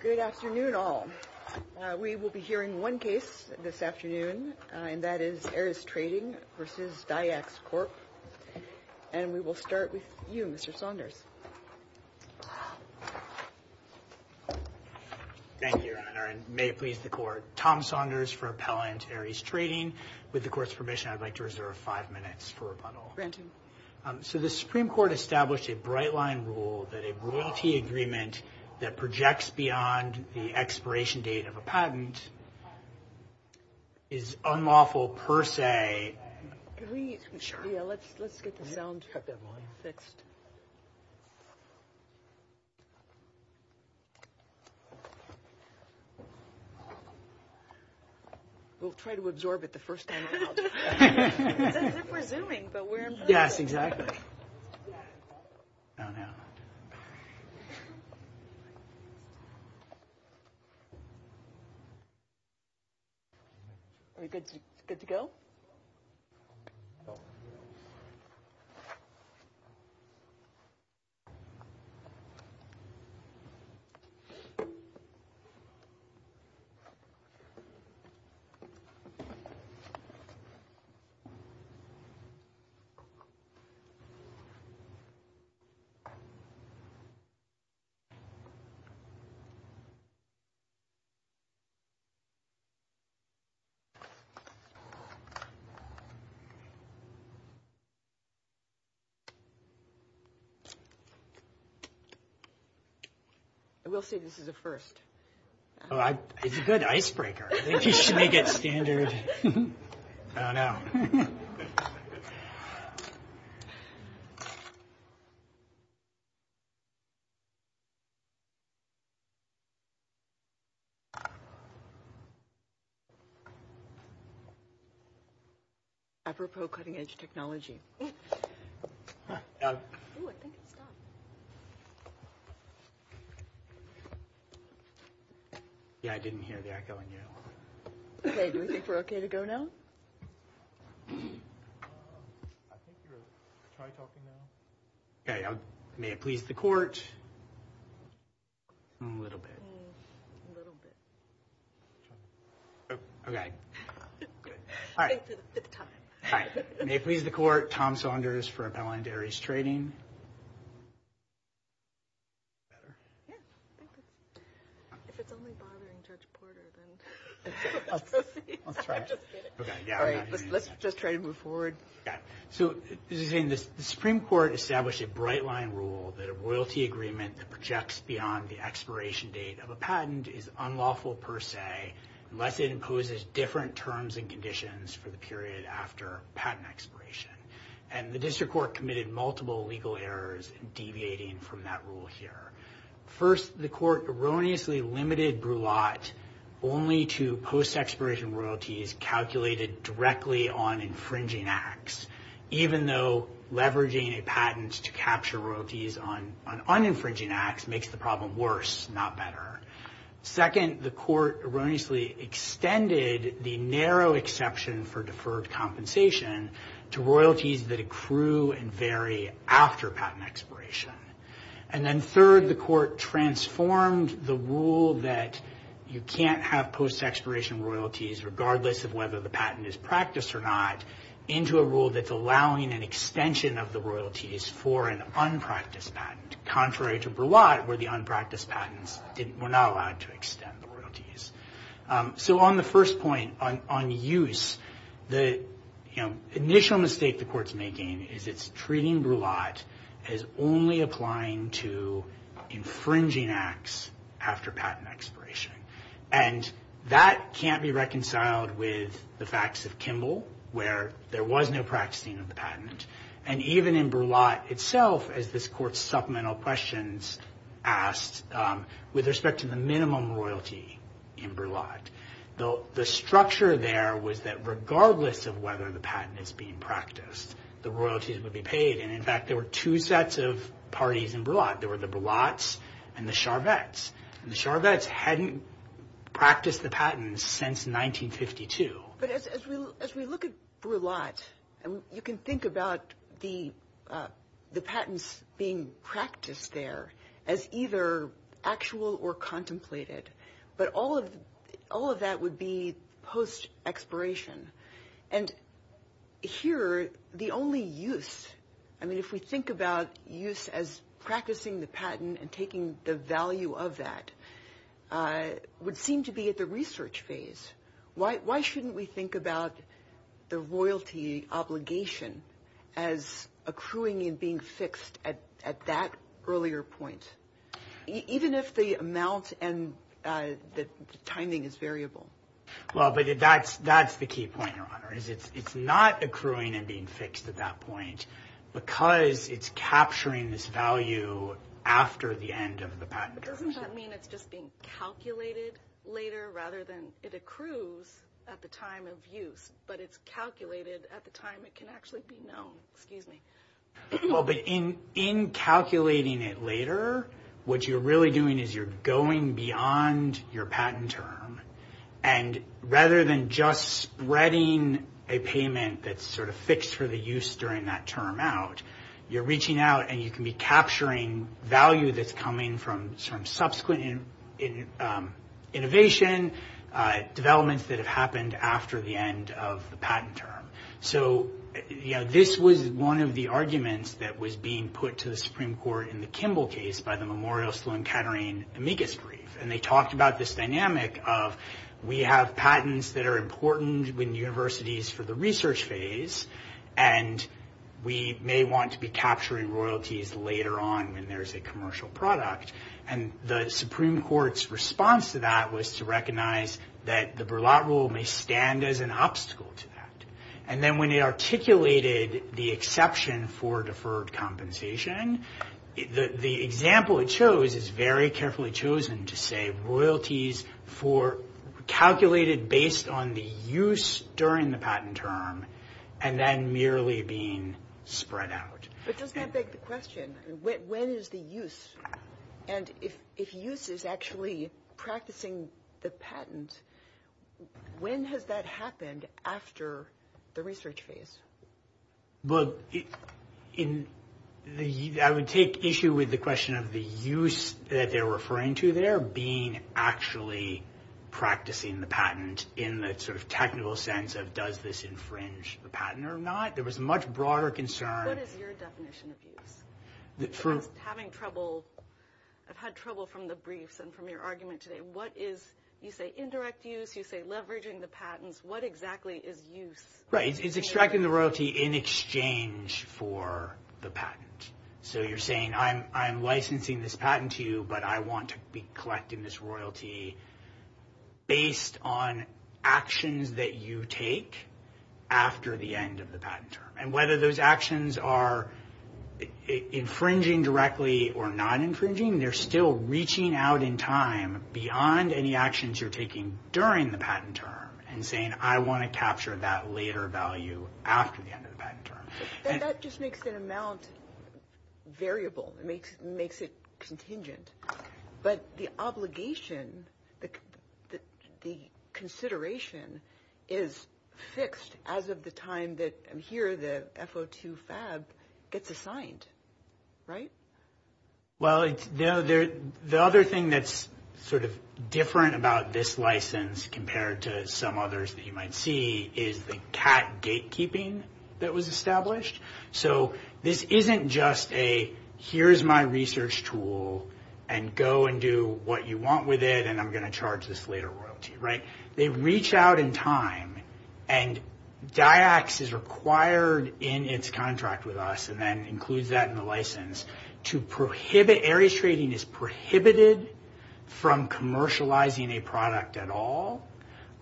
Good afternoon, all. We will be hearing one case this afternoon, and that is Ares Trading v. Dyax Corp. And we will start with you, Mr. Saunders. Thank you, Your Honor, and may it please the Court. Tom Saunders for Appellant Ares Trading. With the Court's permission, I'd like to reserve five minutes for rebuttal. Granted. So the Supreme Court established a bright-line rule that a royalty agreement that projects beyond the expiration date of a patent is unlawful per se. Let's get the sound check up on this. We'll try to absorb it the first time. That's what we're doing, but we're in front. Yes, exactly. Now, now. Are you good to go? I will say this is a first. It's a good icebreaker. You should make it standard. Oh, no. Apropos cutting-edge technology. Yeah, I didn't hear the echoing at all. Okay, we're okay to go now? Okay, may it please the Court. A little bit. Okay. All right. May it please the Court. Tom Saunders for Appellant Ares Trading. Let's just try to move forward. So the Supreme Court established a bright-line rule that a royalty agreement that projects beyond the expiration date of a patent is unlawful per se unless it imposes different terms and conditions for the period after patent expiration. And the District Court committed multiple legal errors in deviating from that rule here. First, the Court erroneously limited brulette only to post-expiration royalties calculated directly on infringing acts, even though leveraging a patent to capture royalties on uninfringing acts makes the problem worse, not better. Second, the Court erroneously extended the narrow exception for deferred compensation to royalties that accrue and vary after patent expiration. And then third, the Court transformed the rule that you can't have post-expiration royalties regardless of whether the patent is practiced or not into a rule that's allowing an extension of the royalties for an unpracticed patent, contrary to brulette, where the unpracticed patents were not allowed to extend the royalties. So on the first point, on use, the initial mistake the Court's making is it's treating brulette as only applying to infringing acts after patent expiration. And that can't be reconciled with the facts of Kimball, where there was no practicing of the patent. And even in brulette itself, as this Court's supplemental questions asked, with respect to the minimum royalty in brulette, the structure there was that regardless of whether the patent is being practiced, the royalties would be paid. And in fact, there were two sets of parties in brulette. There were the brulettes and the Charvettes. And the Charvettes hadn't practiced the patent since 1952. But as we look at brulette, you can think about the patents being practiced there as either actual or contemplated. But all of that would be post-expiration. And here, the only use, I mean, if we think about use as practicing the patent and taking the value of that, would seem to be at the research phase. Why shouldn't we think about the royalty obligation as accruing and being fixed at that earlier point, even if the amount and the timing is variable? Well, but that's the key point, Your Honor, is it's not accruing and being fixed at that point because it's capturing this value after the end of the patent. Doesn't that mean it's just being calculated later rather than it accrues at the time of use, but it's calculated at the time it can actually be known? Well, but in calculating it later, what you're really doing is you're going beyond your patent term. And rather than just spreading a payment that's sort of fixed for the use during that term out, you're reaching out and you can be capturing value that's coming from some subsequent innovation developments that have happened after the end of the patent term. So, you know, this was one of the arguments that was being put to the Supreme Court in the Kimball case by the Memorial Sloan Kettering amicus brief. And they talked about this dynamic of we have patents that are important in universities for the research phase, and we may want to be capturing royalties later on when there's a commercial product. And the Supreme Court's response to that was to recognize that the Verlotte Rule may stand as an obstacle to that. And then when they articulated the exception for deferred compensation, the example it shows is very carefully chosen to say royalties for calculated based on the use during the patent term and then merely being spread out. But doesn't that beg the question, when is the use? And if use is actually practicing the patent, when has that happened after the research phase? Well, I would take issue with the question of the use that they're referring to there being actually practicing the patent in the sort of technical sense of does this infringe the patent or not. What is your definition of use? I've had trouble from the briefs and from your argument today. What is, you say indirect use, you say leveraging the patents, what exactly is use? Right, it's extracting the royalty in exchange for the patent. So you're saying I'm licensing this patent to you, but I want to be collecting this royalty based on actions that you take after the end of the patent term. And whether those actions are infringing directly or not infringing, they're still reaching out in time beyond any actions you're taking during the patent term and saying I want to capture that later value after the end of the patent term. And that just makes an amount variable. It makes it contingent. But the obligation, the consideration is fixed as of the time that here the FO2 FAB gets assigned, right? Well, the other thing that's sort of different about this license compared to some others that you might see is the CAT gatekeeping that was established. So this isn't just a here's my research tool and go and do what you want with it and I'm going to charge this later royalty, right? They reach out in time and DIAX is required in its contract with us and then includes that in the license to prohibit, areas trading is prohibited from commercializing a product at all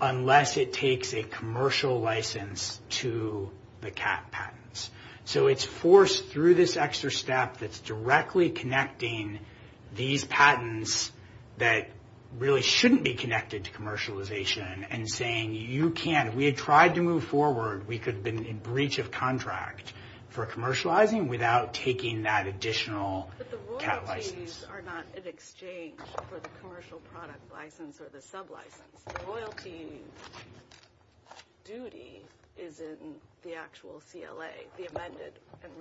unless it takes a commercial license to the CAT patents. So it's forced through this extra step that's directly connecting these patents that really shouldn't be connected to commercialization and saying you can't. If we had tried to move forward, we could have been in breach of contract for commercializing without taking that additional CAT license. But the royalties are not in exchange for the commercial product license or the sub license. The royalty duty is in the actual CLA, the amended and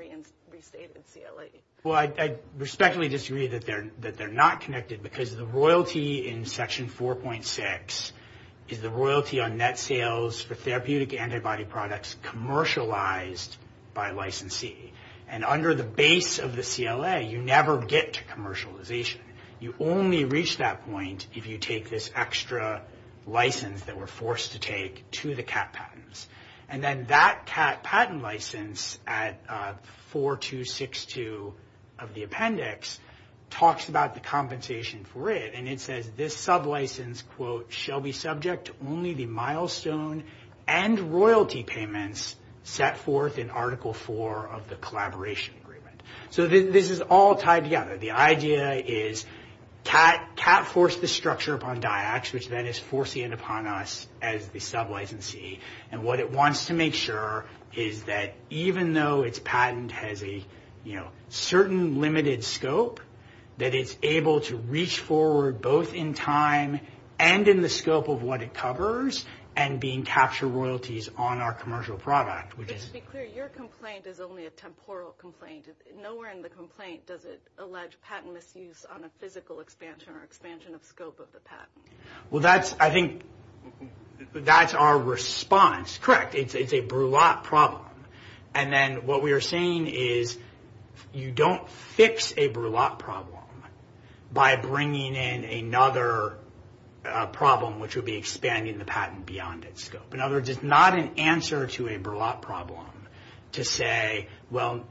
restated CLA. Well, I respectfully disagree that they're not connected because the royalty in Section 4.6 is the royalty on net sales for therapeutic antibody products commercialized by licensee. And under the base of the CLA, you never get to commercialization. You only reach that point if you take this extra license that we're forced to take to the CAT patents. And then that CAT patent license at 4262 of the appendix talks about the compensation for it. And it says this sub license quote shall be subject only the milestone and royalty payments set forth in Article 4 of the collaboration agreement. So this is all tied together. The idea is CAT forced the structure upon DIAC, which then is forcing it upon us as the sub licensee. And what it wants to make sure is that even though its patent has a, you know, certain limited scope, that it's able to reach forward both in time and in the scope of what it covers and being captured royalties on our commercial product. Just to be clear, your complaint is only a temporal complaint. Nowhere in the complaint does it allege patent misuse on a physical expansion or expansion of scope of the patent. Well, that's, I think, that's our response. Correct. It's a brulette problem. And then what we are saying is you don't fix a brulette problem by bringing in another problem, which would be expanding the patent beyond its scope. In other words, it's not an answer to a brulette problem to say, well,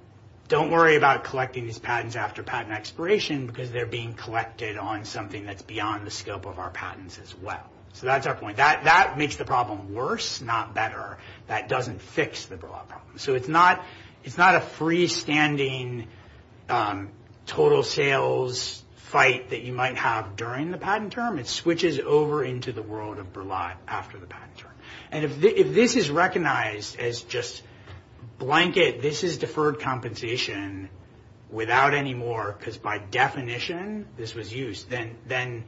don't worry about collecting these patents after patent expiration because they're being collected on something that's beyond the scope of our patents as well. So that's our point. That makes the problem worse, not better. That doesn't fix the brulette problem. So it's not a freestanding total sales fight that you might have during the patent term. It switches over into the world of brulette after the patent term. And if this is recognized as just blanket, this is deferred compensation without any more, because by definition this was used, then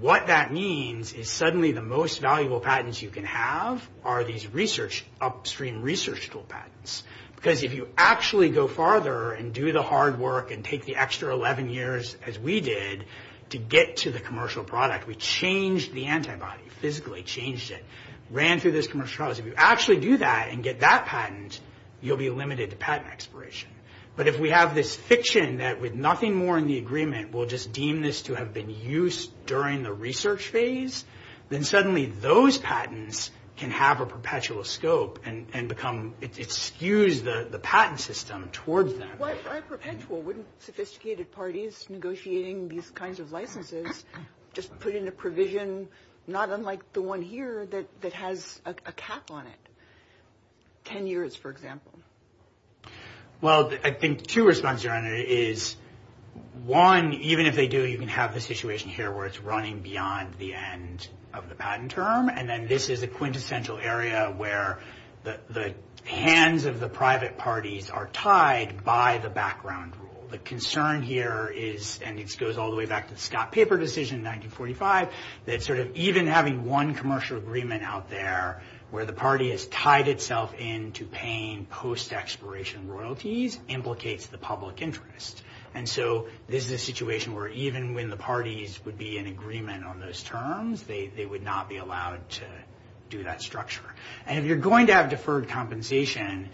what that means is suddenly the most valuable patents you can have are these upstream research tool patents. Because if you actually go farther and do the hard work and take the extra 11 years, as we did, to get to the commercial product, we changed the antibody, physically changed it. Ran through this commercial product. If you actually do that and get that patent, you'll be limited to patent expiration. But if we have this fiction that with nothing more in the agreement, we'll just deem this to have been used during the research phase, then suddenly those patents can have a perpetual scope and become, it skews the patent system towards them. Wouldn't sophisticated parties negotiating these kinds of licenses just put in a provision, not unlike the one here, that has a cap on it? 10 years, for example. Well, I think two responses around it is, one, even if they do, you can have the situation here where it's running beyond the end of the patent term. And then this is a quintessential area where the hands of the private parties are tied by the background rule. The concern here is, and it goes all the way back to the Scott Paper decision in 1945, that even having one commercial agreement out there where the party has tied itself into paying post-expiration royalties implicates the public interest. And so this is a situation where even when the parties would be in agreement on those terms, they would not be allowed to do that structure. And if you're going to have deferred compensation,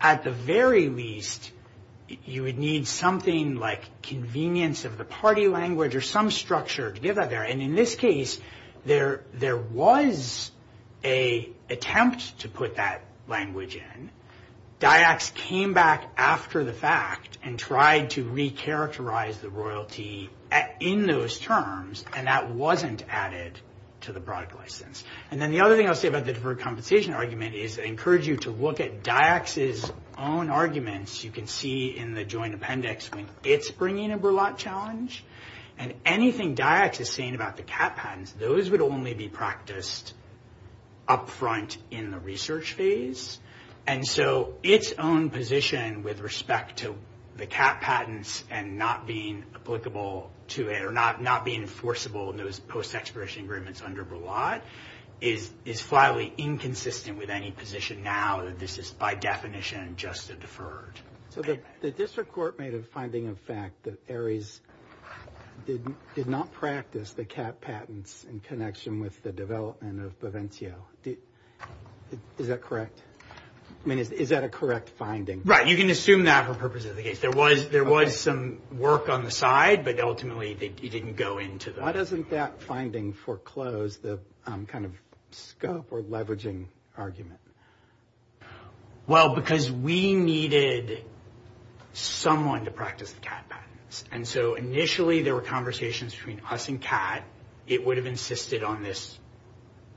at the very least, you would need something like convenience of the party language or some structure to get that there. And in this case, there was an attempt to put that language in. That actually came back after the fact and tried to recharacterize the royalty in those terms, and that wasn't added to the product license. And then the other thing I'll say about the deferred compensation argument is I encourage you to look at DIAC's own arguments. You can see in the joint appendix when it's bringing a burlap challenge. And anything DIAC is saying about the CAT patents, those would only be practiced up front in the research phase. And so its own position with respect to the CAT patents and not being applicable to it or not being enforceable in those post-expiration agreements under Burlat is finally inconsistent with any position now that this is by definition just deferred. So the district court made a finding of fact that ARIES did not practice the CAT patents in connection with the development of Provencio. Is that correct? I mean, is that a correct finding? Right. You can assume that for purposes of the case. There was some work on the side, but ultimately it didn't go into that. Why doesn't that finding foreclose the kind of scope or leveraging argument? Well, because we needed someone to practice the CAT patents. And so initially there were conversations between us and CAT. It would have insisted on this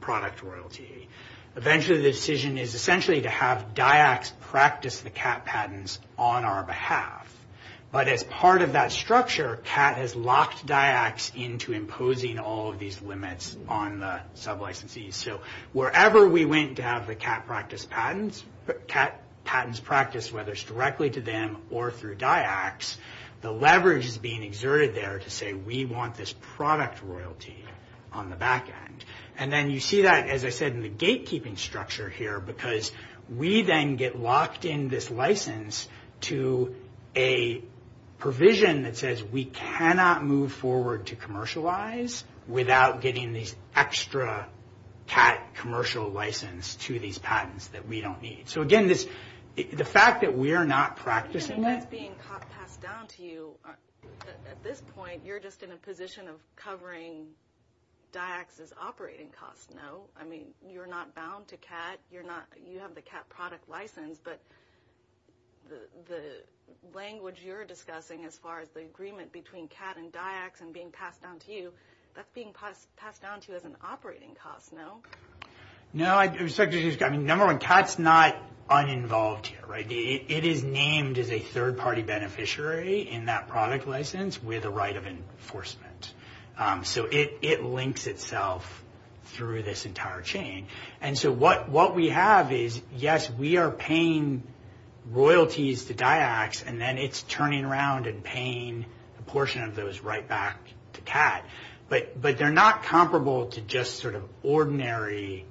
product royalty. Eventually the decision is essentially to have DIAC practice the CAT patents on our behalf. But as part of that structure, CAT has locked DIAC into imposing all of these limits on the sub-licensees. So wherever we went to have the CAT practice patents, whether it's directly to them or through DIACs, the leverage is being exerted there to say we want this product royalty on the back end. And then you see that, as I said, in the gatekeeping structure here, because we then get locked in this license to a provision that says we cannot move forward to commercialize without getting the extra CAT commercial license to these patents that we don't need. So, again, the fact that we are not practicing that. That's being passed down to you at this point. You're just in a position of covering DIACs as operating costs, no? I mean, you're not bound to CAT. You have the CAT product license. But the language you're discussing as far as the agreement between CAT and DIACs and being passed down to you, that's being passed down to you as an operating cost, no? No. Number one, CAT's not uninvolved here, right? It is named as a third-party beneficiary in that product license with a right of enforcement. So it links itself through this entire chain. And so what we have is, yes, we are paying royalties to DIACs, and then it's turning around and paying a portion of those right back to CAT. But they're not comparable to just sort of ordinary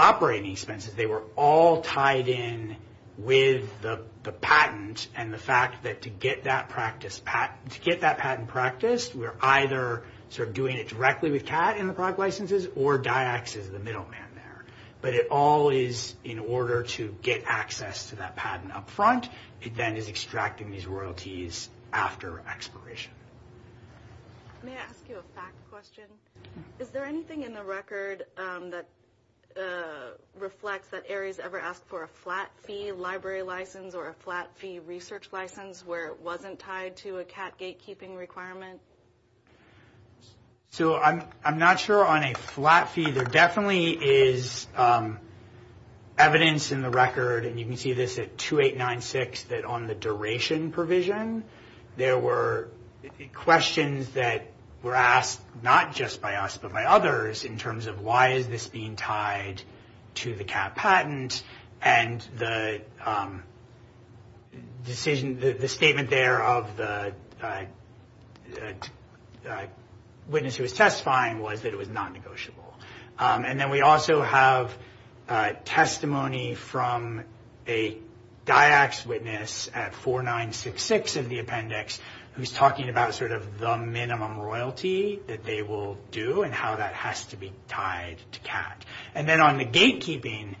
operating expenses. They were all tied in with the patent and the fact that to get that patent practiced, we're either sort of doing it directly with CAT in the product licenses or DIACs is the middleman there. But it all is in order to get access to that patent up front. It then is extracting these royalties after expiration. May I ask you a fact question? Is there anything in the record that reflects that ARIES ever asked for a flat fee library license or a flat fee research license where it wasn't tied to a CAT gatekeeping requirement? So I'm not sure on a flat fee. There definitely is evidence in the record, and you can see this at 2896, that on the duration provision, there were questions that were asked not just by us but by others in terms of why is this being tied to the CAT patent. And the statement there of the witness who was testifying was that it was not negotiable. And then we also have testimony from a DIACs witness at 4966 of the appendix who's talking about sort of the minimum royalty that they will do and how that has to be tied to CAT. And then on the gatekeeping,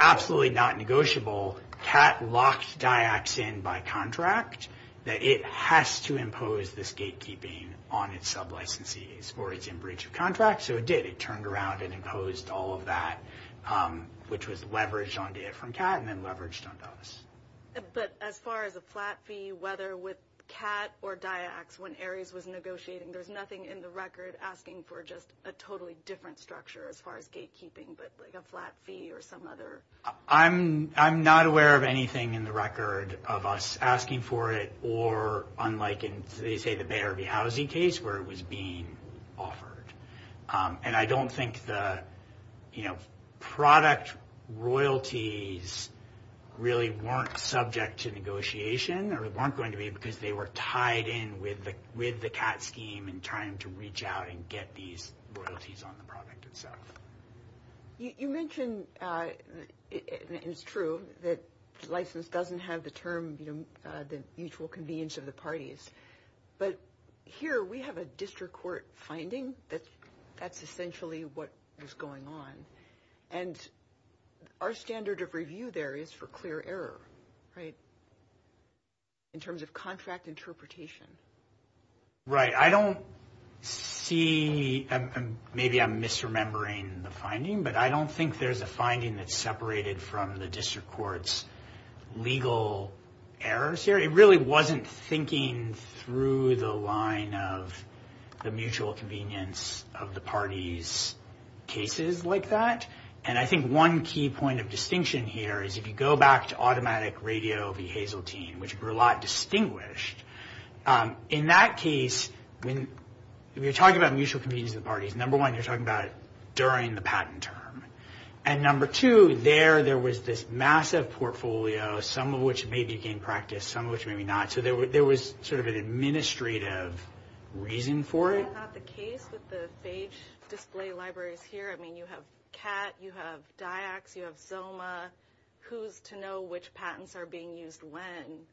absolutely not negotiable, CAT locks DIACs in by contract that it has to impose this gatekeeping on its sublicensees or it's in breach of contract. So it did. It turned around and imposed all of that, which was leveraged on DIAC from CAT and then leveraged on us. But as far as a flat fee, whether with CAT or DIACs, when ARIES was negotiating, there's nothing in the record asking for just a totally different structure as far as gatekeeping, but like a flat fee or some other? I'm not aware of anything in the record of us asking for it or unlike in, say, the Bay Arby housing case where it was being offered. And I don't think the product royalties really weren't subject to negotiation or weren't going to be because they were tied in with the CAT scheme in trying to reach out and get these royalties on the product itself. You mentioned, and it's true, that license doesn't have the term the mutual convenience of the parties, but here we have a district court finding that that's essentially what was going on. And our standard of review there is for clear error, right, in terms of contract interpretation. Right. I don't see, maybe I'm misremembering the finding, but I don't think there's a finding that's separated from the district court's legal errors here. It really wasn't thinking through the line of the mutual convenience of the parties' cases like that. And I think one key point of distinction here is if you go back to Automatic Radio v. Hazeltine, which were a lot distinguished, in that case, when you're talking about mutual convenience of the parties, number one, you're talking about it during the patent term. And number two, there, there was this massive portfolio, some of which maybe became practice, some of which maybe not. So there was sort of an administrative reason for it. That's not the case with the page display libraries here. I mean, you have CAT, you have DIACS, you have ZILMA. Who's to know which patents are being used when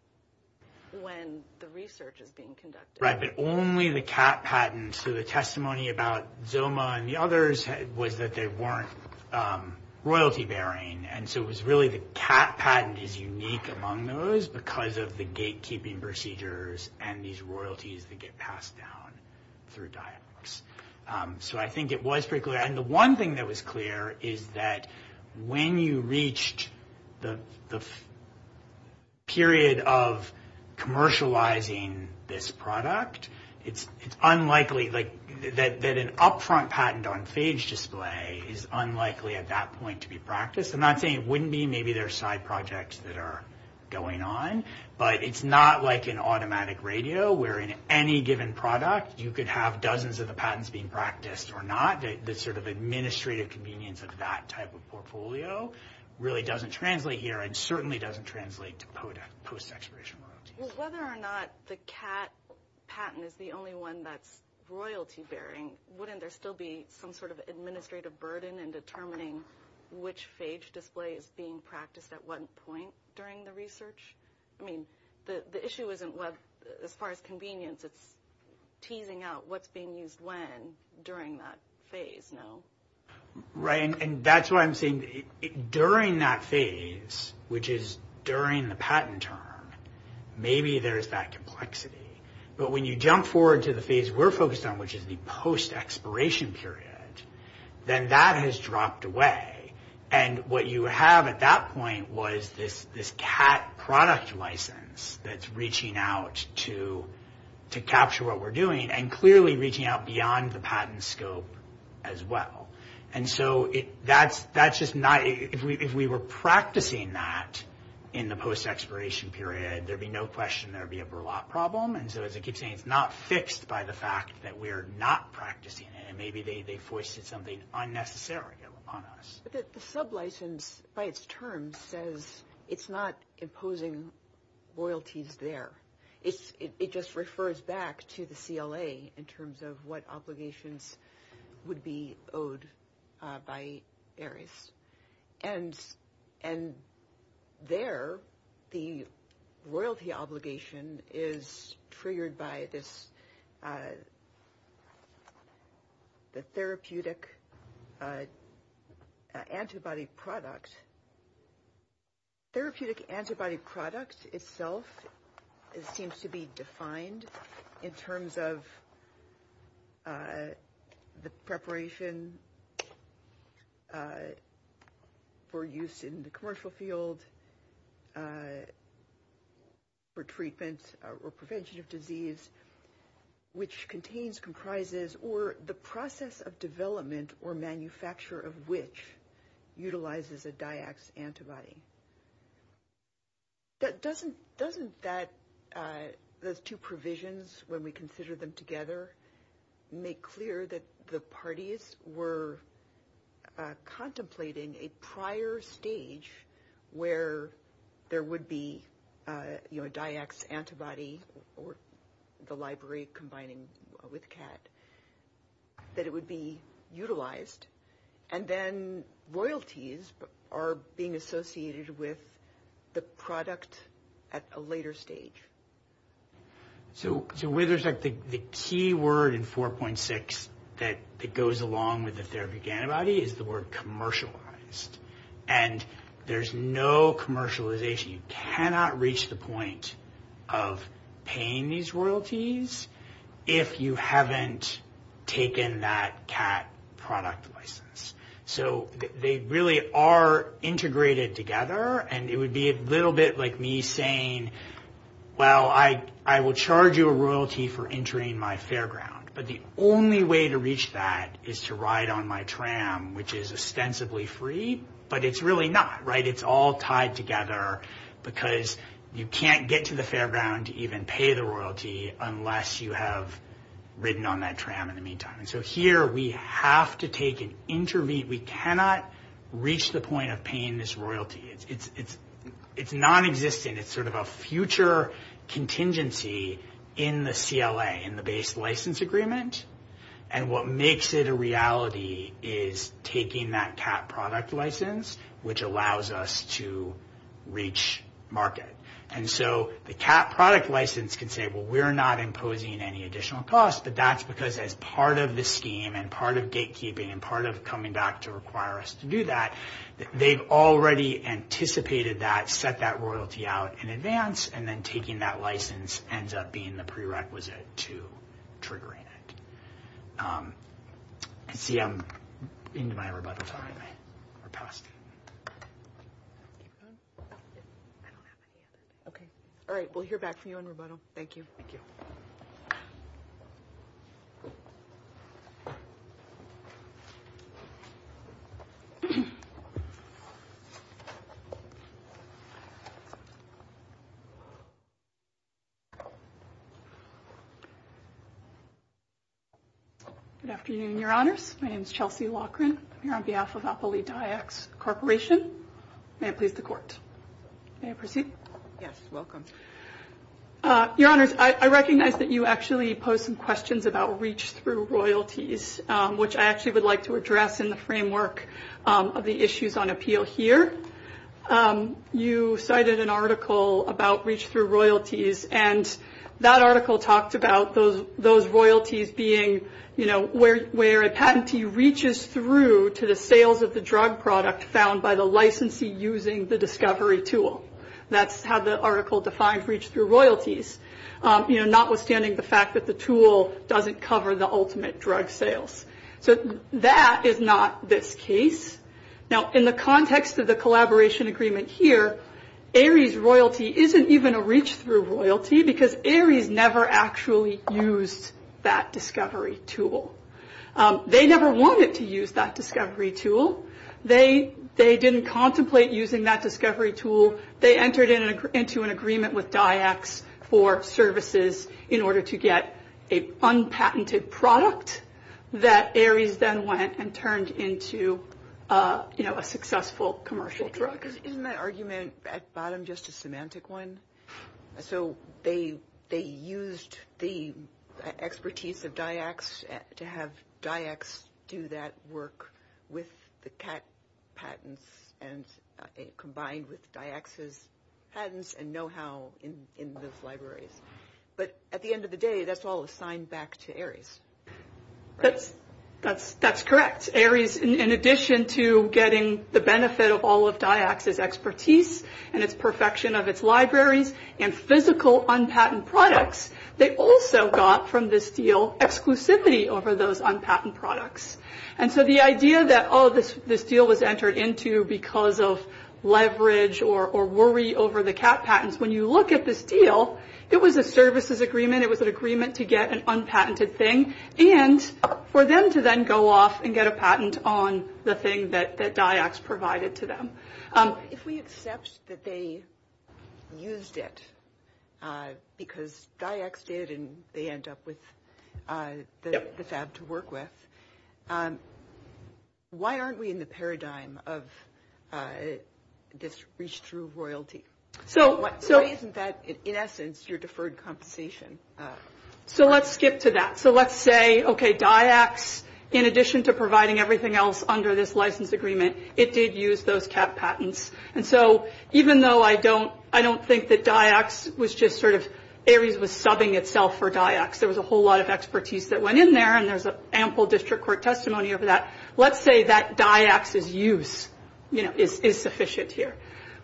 the research is being conducted? Right, but only the CAT patents. So the testimony about ZILMA and the others was that they weren't royalty bearing. And so it was really the CAT patent is unique among those because of the gatekeeping procedures and these royalties that get passed down through DIACS. So I think it was pretty clear. And the one thing that was clear is that when you reached the period of commercializing this product, it's unlikely, like, that an upfront patent on page display is unlikely at that point to be practiced. I'm not saying it wouldn't be. Maybe there are side projects that are going on. But it's not like an automatic radio where, in any given product, you could have dozens of the patents being practiced or not. The sort of administrative convenience of that type of portfolio really doesn't translate here and certainly doesn't translate to post-expiration royalty. Well, whether or not the CAT patent is the only one that's royalty bearing, wouldn't there still be some sort of administrative burden in determining which page display is being practiced at what point during the research? I mean, the issue isn't, as far as convenience, it's teasing out what's being used when during that phase, no? Right. And that's what I'm saying. During that phase, which is during the patent term, maybe there's that complexity. But when you jump forward to the phase we're focused on, which is the post-expiration period, then that has dropped away. And what you have at that point was this CAT product license that's reaching out to capture what we're doing and clearly reaching out beyond the patent scope as well. And so that's just not – if we were practicing that in the post-expiration period, there'd be no question there'd be a burlap problem. And so as I keep saying, it's not fixed by the fact that we're not practicing it. Maybe they've forced something unnecessary upon us. The sub-license, by its term, says it's not imposing royalties there. It just refers back to the CLA in terms of what obligations would be owed by ARIES. And there, the royalty obligation is triggered by the therapeutic antibody product. Therapeutic antibody product itself seems to be defined in terms of the preparation for use in the commercial field for treatment or prevention of disease, which contains, comprises, or the process of development or manufacture of which utilizes a DIACS antibody. Doesn't that – those two provisions, when we consider them together, make clear that the parties were contemplating a prior stage where there would be, you know, that it would be utilized. And then royalties are being associated with the product at a later stage. So with respect, the key word in 4.6 that goes along with the therapeutic antibody is the word commercialized. And there's no commercialization. You cannot reach the point of paying these royalties if you haven't taken that CAT product license. So they really are integrated together. And it would be a little bit like me saying, well, I will charge you a royalty for entering my fairground. But the only way to reach that is to ride on my tram, which is ostensibly free. But it's really not, right? It's all tied together because you can't get to the fairground to even pay the royalty unless you have ridden on that tram in the meantime. And so here we have to take an – we cannot reach the point of paying this royalty. It's nonexistent. It's sort of a future contingency in the CLA, in the base license agreement. And what makes it a reality is taking that CAT product license, which allows us to reach market. And so the CAT product license can say, well, we're not imposing any additional costs. But that's because as part of the scheme and part of gatekeeping and part of coming back to require us to do that, they've already anticipated that, set that royalty out in advance, and then taking that license ends up being the prerequisite to triggering it. And see, I'm into my rebuttal time. We're past it. All right. We'll hear back from you in rebuttal. Thank you. Thank you. Good afternoon, Your Honors. My name is Chelsea Loughran. I'm here on behalf of Alphalete IX Corporation. May I please report? May I proceed? Yes. Welcome. Your Honors, I recognize that you actually posed some questions about reach-through royalties, which I actually would like to address in the framework of the issues on appeal here. You cited an article about reach-through royalties, and that article talked about those royalties being, you know, where a patentee reaches through to the sales of the drug product found by the licensee using the discovery tool. That's how the article defines reach-through royalties, you know, notwithstanding the fact that the tool doesn't cover the ultimate drug sales. So that is not this case. Now, in the context of the collaboration agreement here, ARIES royalty isn't even a reach-through royalty because ARIES never actually used that discovery tool. They never wanted to use that discovery tool. They didn't contemplate using that discovery tool. They entered into an agreement with DIACS for services in order to get an unpatented product that ARIES then went and turned into, you know, a successful commercial drug. Isn't my argument at the bottom just a semantic one? So they used the expertise of DIACS to have DIACS do that work with the CAT patents and combined with DIACS's patents and know-how in those libraries. But at the end of the day, that's all assigned back to ARIES. That's correct. In addition to getting the benefit of all of DIACS's expertise and its perfection of its libraries and physical unpatent products, they also got from this deal exclusivity over those unpatent products. And so the idea that, oh, this deal was entered into because of leverage or worry over the CAT patents, when you look at this deal, it was a services agreement. It was an agreement to get an unpatented thing. And for them to then go off and get a patent on the thing that DIACS provided to them. If we accept that they used it because DIACS did and they end up with the fab to work with, why aren't we in the paradigm of just reach through royalty? Why isn't that, in essence, your deferred compensation? So let's skip to that. So let's say, okay, DIACS, in addition to providing everything else under this license agreement, it did use those CAT patents. And so even though I don't think that ARIES was subbing itself for DIACS, there was a whole lot of expertise that went in there and there's ample district court testimony over that. Let's say that DIACS's use is sufficient here.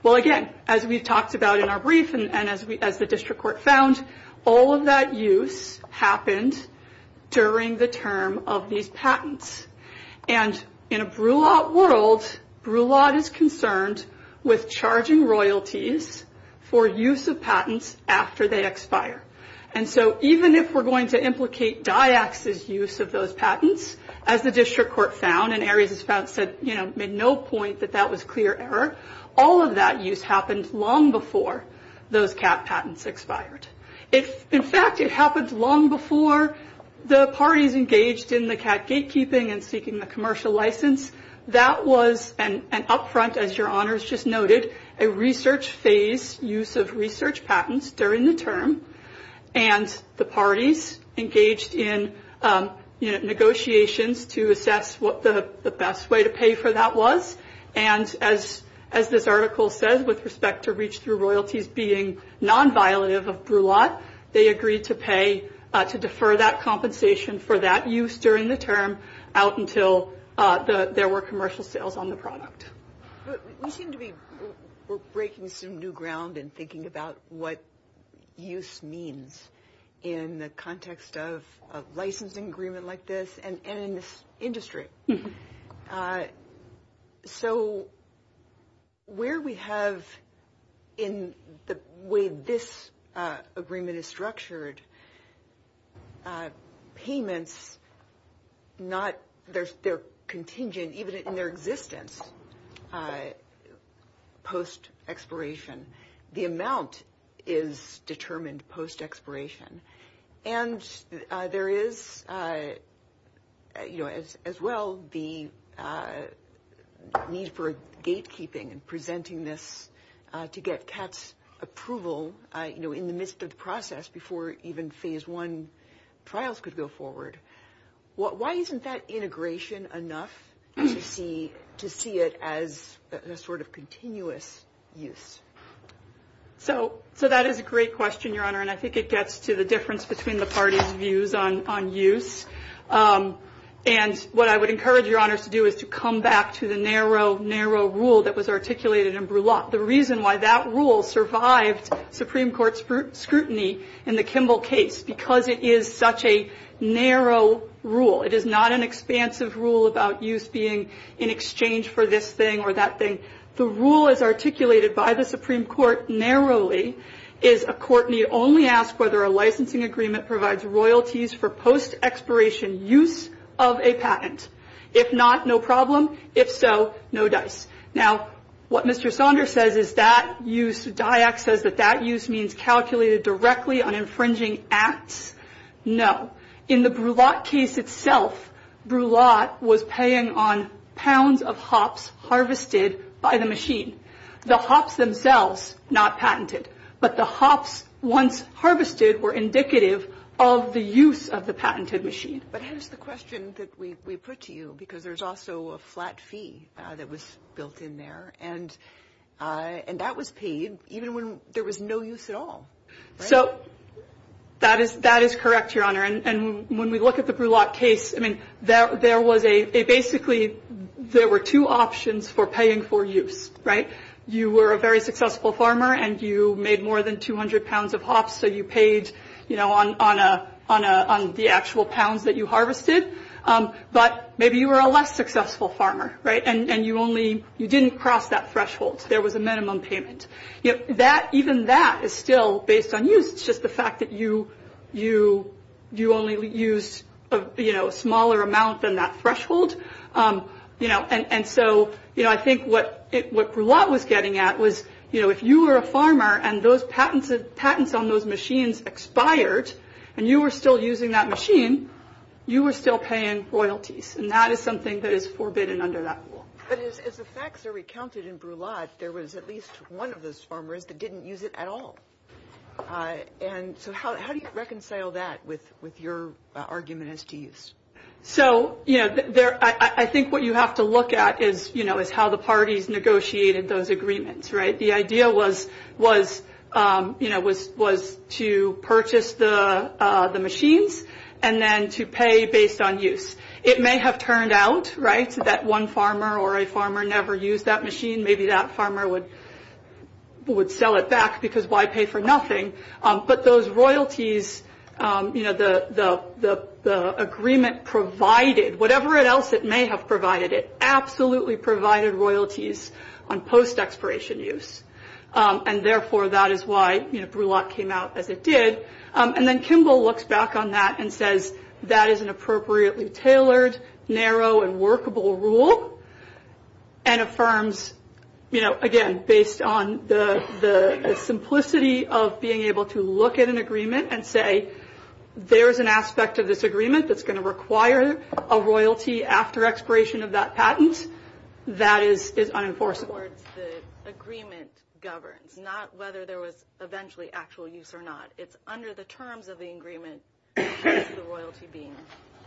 Well, again, as we've talked about in our brief and as the district court found, all of that use happened during the term of these patents. And in a BRULET world, BRULET is concerned with charging royalties for use of patents after they expire. And so even if we're going to implicate DIACS's use of those patents, as the district court found and ARIES has found, said, you know, made no point that that was clear error, all of that use happened long before those CAT patents expired. In fact, it happened long before the parties engaged in the CAT gatekeeping and seeking the commercial license. That was an upfront, as your honors just noted, a research phase use of research patents during the term, and the parties engaged in negotiations to assess what the best way to pay for that was. And as this article says with respect to reach through royalties being non-violative of BRULET, they agreed to pay to defer that compensation for that use during the term out until there were commercial sales on the product. We seem to be breaking some new ground in thinking about what use means in the context of licensing agreement like this and in this industry. So where we have in the way this agreement is structured, payments, they're contingent even in their existence post-expiration. The amount is determined post-expiration. And there is, as well, the need for gatekeeping and presenting this to get CAT's approval in the midst of the process before even Phase I trials could go forward. Why isn't that integration enough to see it as a sort of continuous use? So that is a great question, your honor, and I think it gets to the difference between the parties' views on use. And what I would encourage your honors to do is to come back to the narrow, narrow rule that was articulated in BRULET, the reason why that rule survived Supreme Court scrutiny in the Kimball case, because it is such a narrow rule. It is not an expansive rule about use being in exchange for this thing or that thing. The rule as articulated by the Supreme Court narrowly is a court may only ask whether a licensing agreement provides royalties for post-expiration use of a patent. If not, no problem. If so, no dice. Now, what Mr. Saunders says is that use, Dyack says that that use means calculated directly on infringing acts. No. In the BRULET case itself, BRULET was paying on pounds of hops harvested by the machine. The hops themselves not patented, but the hops once harvested were indicative of the use of the patented machine. But that's the question that we put to you because there's also a flat fee that was built in there, and that was paid even when there was no use at all. That is correct, Your Honor. When we look at the BRULET case, basically there were two options for paying for use. You were a very successful farmer, and you made more than 200 pounds of hops, so you paid on the actual pounds that you harvested. But maybe you were a less successful farmer, and you didn't cross that threshold. There was a minimum payment. Even that is still based on use. It's just the fact that you only use a smaller amount than that threshold. I think what BRULET was getting at was if you were a farmer and those patents on those machines expired, and you were still using that machine, you were still paying royalties, and that is something that is forbidden under that rule. But as the facts are recounted in BRULET, there was at least one of those farmers that didn't use it at all. So how do you reconcile that with your argument as to use? I think what you have to look at is how the parties negotiated those agreements. The idea was to purchase the machines and then to pay based on use. It may have turned out that one farmer or a farmer never used that machine. Maybe that farmer would sell it back because why pay for nothing? But those royalties, the agreement provided, whatever else it may have provided, it absolutely provided royalties on post-expiration use, and therefore that is why BRULET came out as it did. Then Kimball looks back on that and says that is an appropriately tailored, narrow, and workable rule and affirms, again, based on the simplicity of being able to look at an agreement and say there is an aspect of this agreement that is going to require a royalty after expiration of that patent. That is unenforceable. The agreement governs, not whether there was eventually actual use or not. It's under the terms of the agreement that the royalty being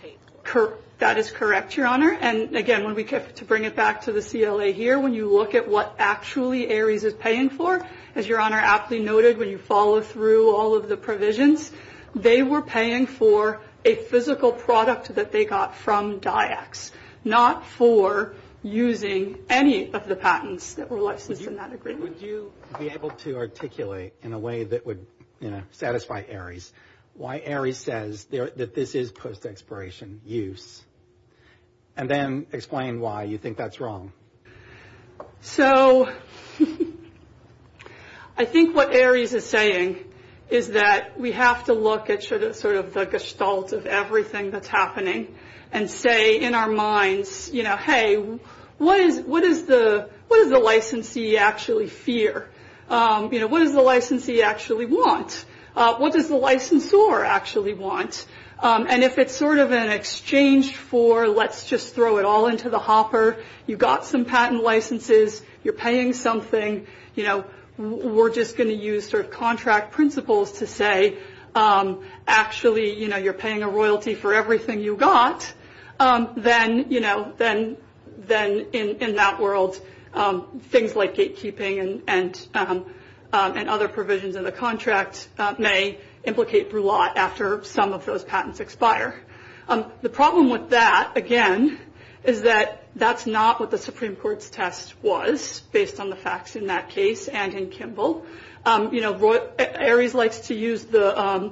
paid for. That is correct, Your Honor. Again, to bring it back to the CLA here, when you look at what actually Ares is paying for, as Your Honor aptly noted when you follow through all of the provisions, they were paying for a physical product that they got from DIACS, not for using any of the patents that were listed in that agreement. Would you be able to articulate in a way that would, you know, satisfy Ares why Ares says that this is post-expiration use and then explain why you think that's wrong? So I think what Ares is saying is that we have to look at sort of the gestalt of everything that's happening and say in our minds, you know, hey, what does the licensee actually fear? You know, what does the licensee actually want? What does the licensor actually want? And if it's sort of an exchange for let's just throw it all into the hopper, you got some patent licenses, you're paying something, you know, we're just going to use sort of contract principles to say actually, you know, you're paying a royalty for everything you got, then, you know, then in that world, things like gatekeeping and other provisions of the contract may implicate Brulot after some of those patents expire. The problem with that, again, is that that's not what the Supreme Court's test was, based on the facts in that case and in Kimball. You know, Ares likes to use the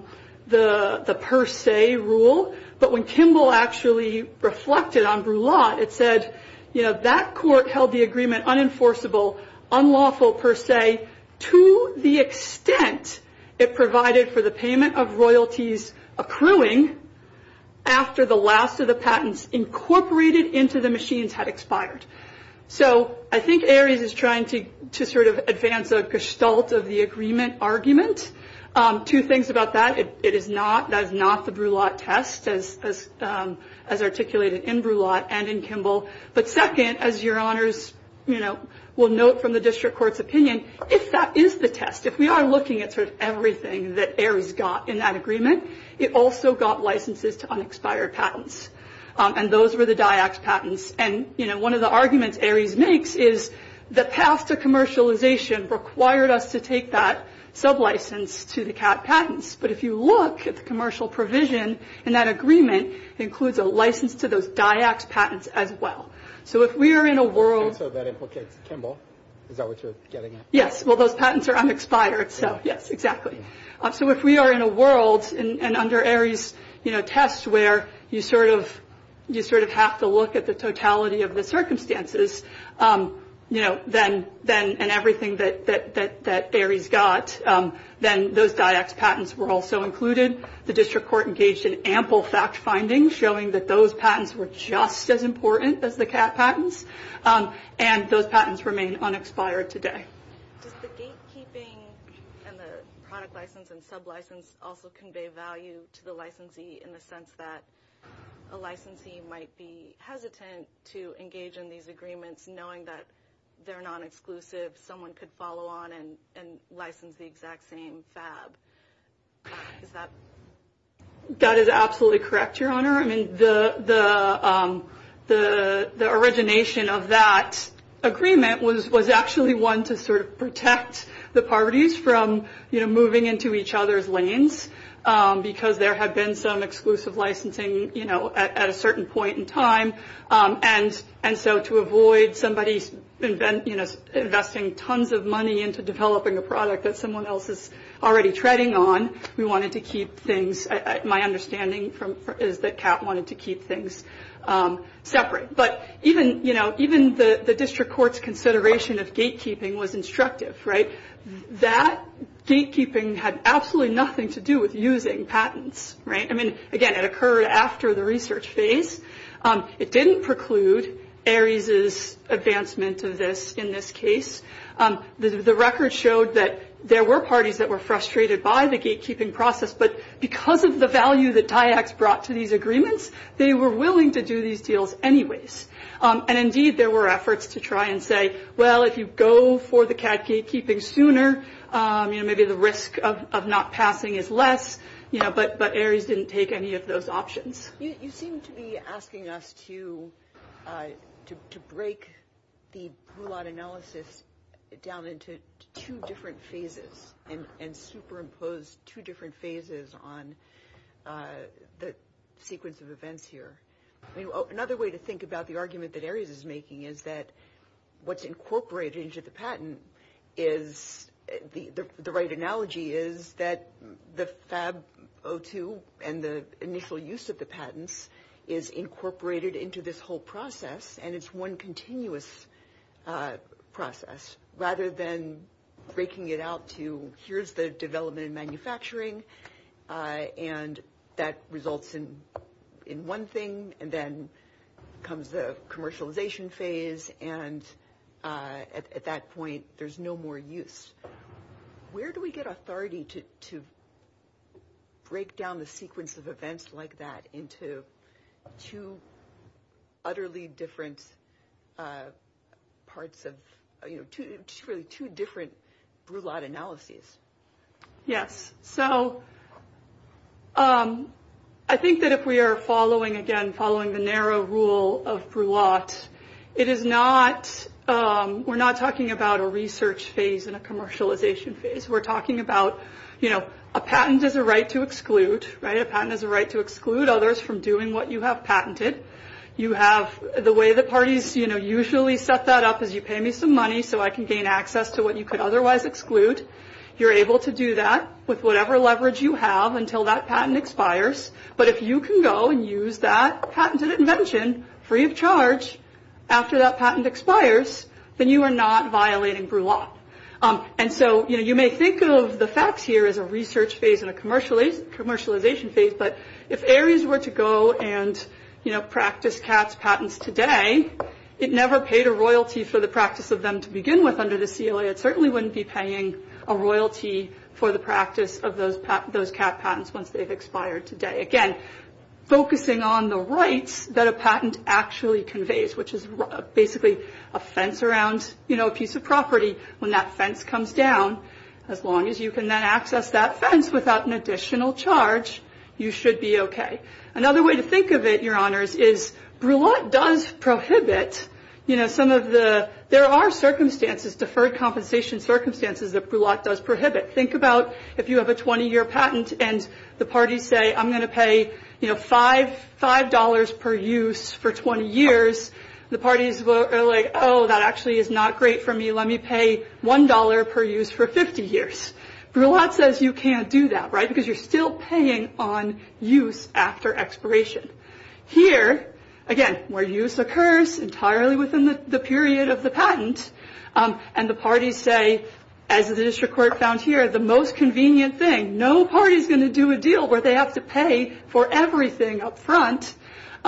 per se rule, but when Kimball actually reflected on Brulot, it said, you know, that court held the agreement unenforceable, unlawful per se, to the extent it provided for the payment of royalties accruing after the last of the patents incorporated into the machines had expired. So I think Ares is trying to sort of advance the gestalt of the agreement argument. Two things about that. That is not the Brulot test as articulated in Brulot and in Kimball. But second, as your honors, you know, will note from the district court's opinion, that is the test. If we are looking at sort of everything that Ares got in that agreement, it also got licenses to unexpired patents, and those were the DIAC patents. And, you know, one of the arguments Ares makes is the path to commercialization required us to take that sublicense to the CAT patents. But if you look at the commercial provision in that agreement, it includes a license to those DIAC patents as well. So if we are in a world. Okay, Kimball, we got what you're getting at. Yes, well, those patents are unexpired. Yes, exactly. So if we are in a world and under Ares, you know, tests where you sort of have to look at the totality of the circumstances, you know, and everything that Ares got, then those DIAC patents were also included. The district court engaged in ample fact findings showing that those patents were just as important as the CAT patents, and those patents remain unexpired today. Does the date keeping and the product license and sublicense also convey value to the licensee in the sense that a licensee might be hesitant to engage in these agreements knowing that they're non-exclusive, someone could follow on and license the exact same fab? That is absolutely correct, Your Honor. I mean, the origination of that agreement was actually one to sort of protect the parties from, you know, at a certain point in time, and so to avoid somebody, you know, investing tons of money into developing a product that someone else is already treading on, we wanted to keep things, my understanding is that CAT wanted to keep things separate. But even, you know, even the district court's consideration of date keeping was instructive, right? That date keeping had absolutely nothing to do with using patents, right? I mean, again, it occurred after the research phase. It didn't preclude ARIES's advancement of this in this case. The record showed that there were parties that were frustrated by the date keeping process, but because of the value that DIACS brought to these agreements, they were willing to do these deals anyways. And, indeed, there were efforts to try and say, well, if you go for the CAT date keeping sooner, you know, maybe the risk of not passing is less, you know, but ARIES didn't take any of those options. You seem to be asking us to break the rule-out analysis down into two different phases and superimpose two different phases on the sequence of events here. Another way to think about the argument that ARIES is making is that what's incorporated into the patent is – the right analogy is that the FAB 02 and the initial use of the patents is incorporated into this whole process, and it's one continuous process rather than breaking it out to here's the development and manufacturing, and that results in one thing, and then comes the commercialization phase, and at that point, there's no more use. Where do we get authority to break down the sequence of events like that into two utterly different parts of – you know, really two different rule-out analyses? Yes. So I think that if we are following, again, following the narrow rule of Bruot, it is not – we're not talking about a research phase and a commercialization phase. We're talking about, you know, a patent is a right to exclude, right? A patent is a right to exclude others from doing what you have patented. You have – the way the parties, you know, usually set that up is you pay me some money so I can gain access to what you could otherwise exclude. You're able to do that with whatever leverage you have until that patent expires, but if you can go and use that patented invention free of charge after that patent expires, then you are not violating Bruot. And so, you know, you may think of the FABs here as a research phase and a commercialization phase, but if Ares were to go and, you know, practice CAF patents today, it never paid a royalty for the practice of them to begin with under the CLA. It certainly wouldn't be paying a royalty for the practice of those CAF patents once they've expired today. Again, focusing on the rights that a patent actually conveys, which is basically a fence around, you know, a piece of property. When that fence comes down, as long as you can then access that fence without an additional charge, you should be okay. Another way to think of it, Your Honors, is Bruot does prohibit, you know, some of the – there are circumstances, deferred compensation circumstances that Bruot does prohibit. Think about if you have a 20-year patent and the parties say, I'm going to pay, you know, $5 per use for 20 years, the parties are like, oh, that actually is not great for me. Let me pay $1 per use for 50 years. Bruot says you can't do that, right, because you're still paying on use after expiration. Here, again, where use occurs entirely within the period of the patent, and the parties say, as the district court found here, the most convenient thing, no party is going to do a deal where they have to pay for everything up front,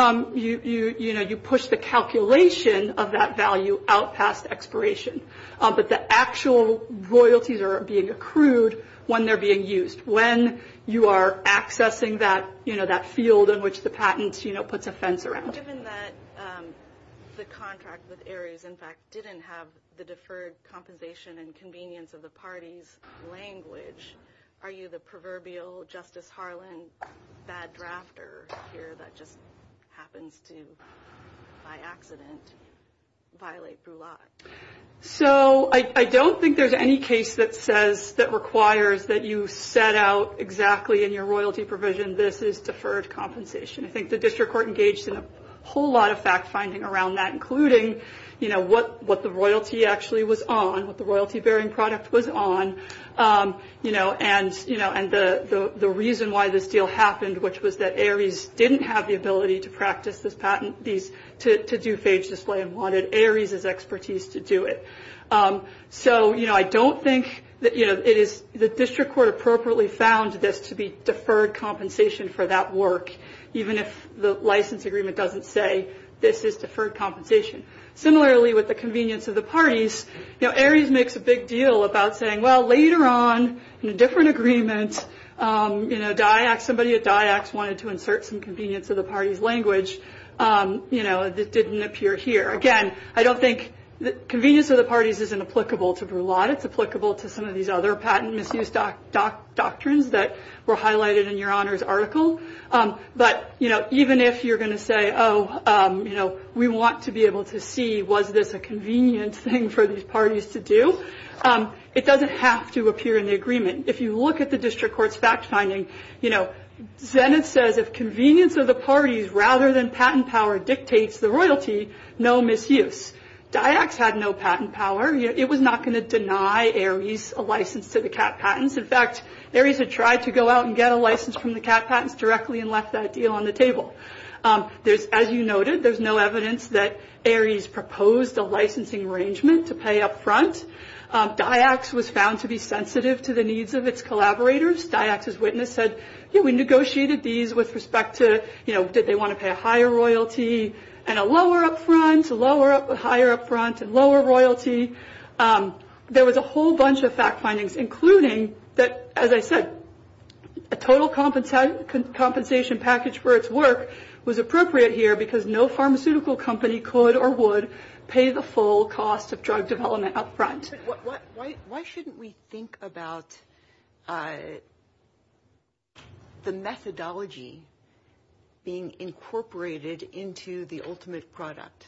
you know, you push the calculation of that value out past expiration. But the actual royalties are being accrued when they're being used, when you are accessing that, you know, that field in which the patent, you know, puts a fence around. Given that the contract with Ares, in fact, didn't have the deferred compensation and convenience of the party's language, are you the proverbial Justice Harlan bad drafter here that just happens to, by accident, violate the law? So I don't think there's any case that says, that requires that you set out exactly in your royalty provision, this is deferred compensation. I think the district court engaged in a whole lot of fact-finding around that, including, you know, what the royalty actually was on, what the royalty-bearing product was on. You know, and the reason why this deal happened, which was that Ares didn't have the ability to practice this patent, to do phage display and wanted Ares' expertise to do it. So, you know, I don't think that, you know, the district court appropriately found this to be deferred compensation for that work, even if the license agreement doesn't say this is deferred compensation. Similarly, with the convenience of the parties, you know, later on in a different agreement, you know, DIAC, somebody at DIAC wanted to insert some convenience of the party's language, you know, as it didn't appear here. Again, I don't think convenience of the parties is inapplicable to the law. It's applicable to some of these other patent misuse doctrines that were highlighted in your honors article. But, you know, even if you're going to say, oh, you know, we want to be able to see was this a convenient thing for these parties to do, it doesn't have to appear in the agreement. If you look at the district court's fact finding, you know, Zenith says if convenience of the parties rather than patent power dictates the royalty, no misuse. DIAC had no patent power. It was not going to deny Ares a license to the CAT patents. In fact, Ares had tried to go out and get a license from the CAT patents directly and left that deal on the table. As you noted, there's no evidence that Ares proposed a licensing arrangement to pay up front. DIAC was found to be sensitive to the needs of its collaborators. DIAC's witness said, you know, we negotiated these with respect to, you know, did they want to pay a higher royalty and a lower up front, a higher up front, and lower royalty. There was a whole bunch of fact findings, including that, as I said, a total compensation package for its work was appropriate here because no pharmaceutical company could or would pay the full cost of drug development up front. Why shouldn't we think about the methodology being incorporated into the ultimate product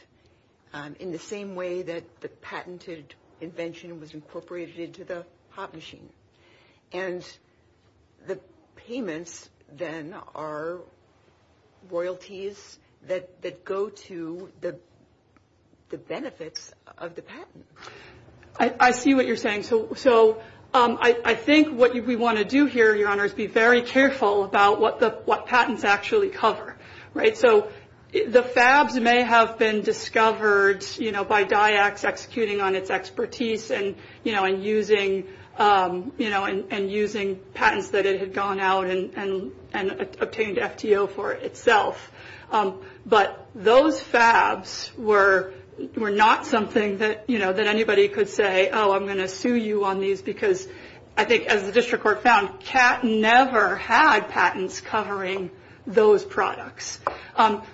in the same way that the patented invention was incorporated into the pot machine? And the payments, then, are royalties that go to the benefits of the patent. I see what you're saying. So I think what we want to do here, Your Honors, be very careful about what patents actually cover, right? So the FABs may have been discovered, you know, by DIACs executing on its expertise and, you know, and using patents that it had gone out and obtained FTO for itself. But those FABs were not something that, you know, that anybody could say, oh, I'm going to sue you on these, because I think, as the district court found, CAT never had patents covering those products.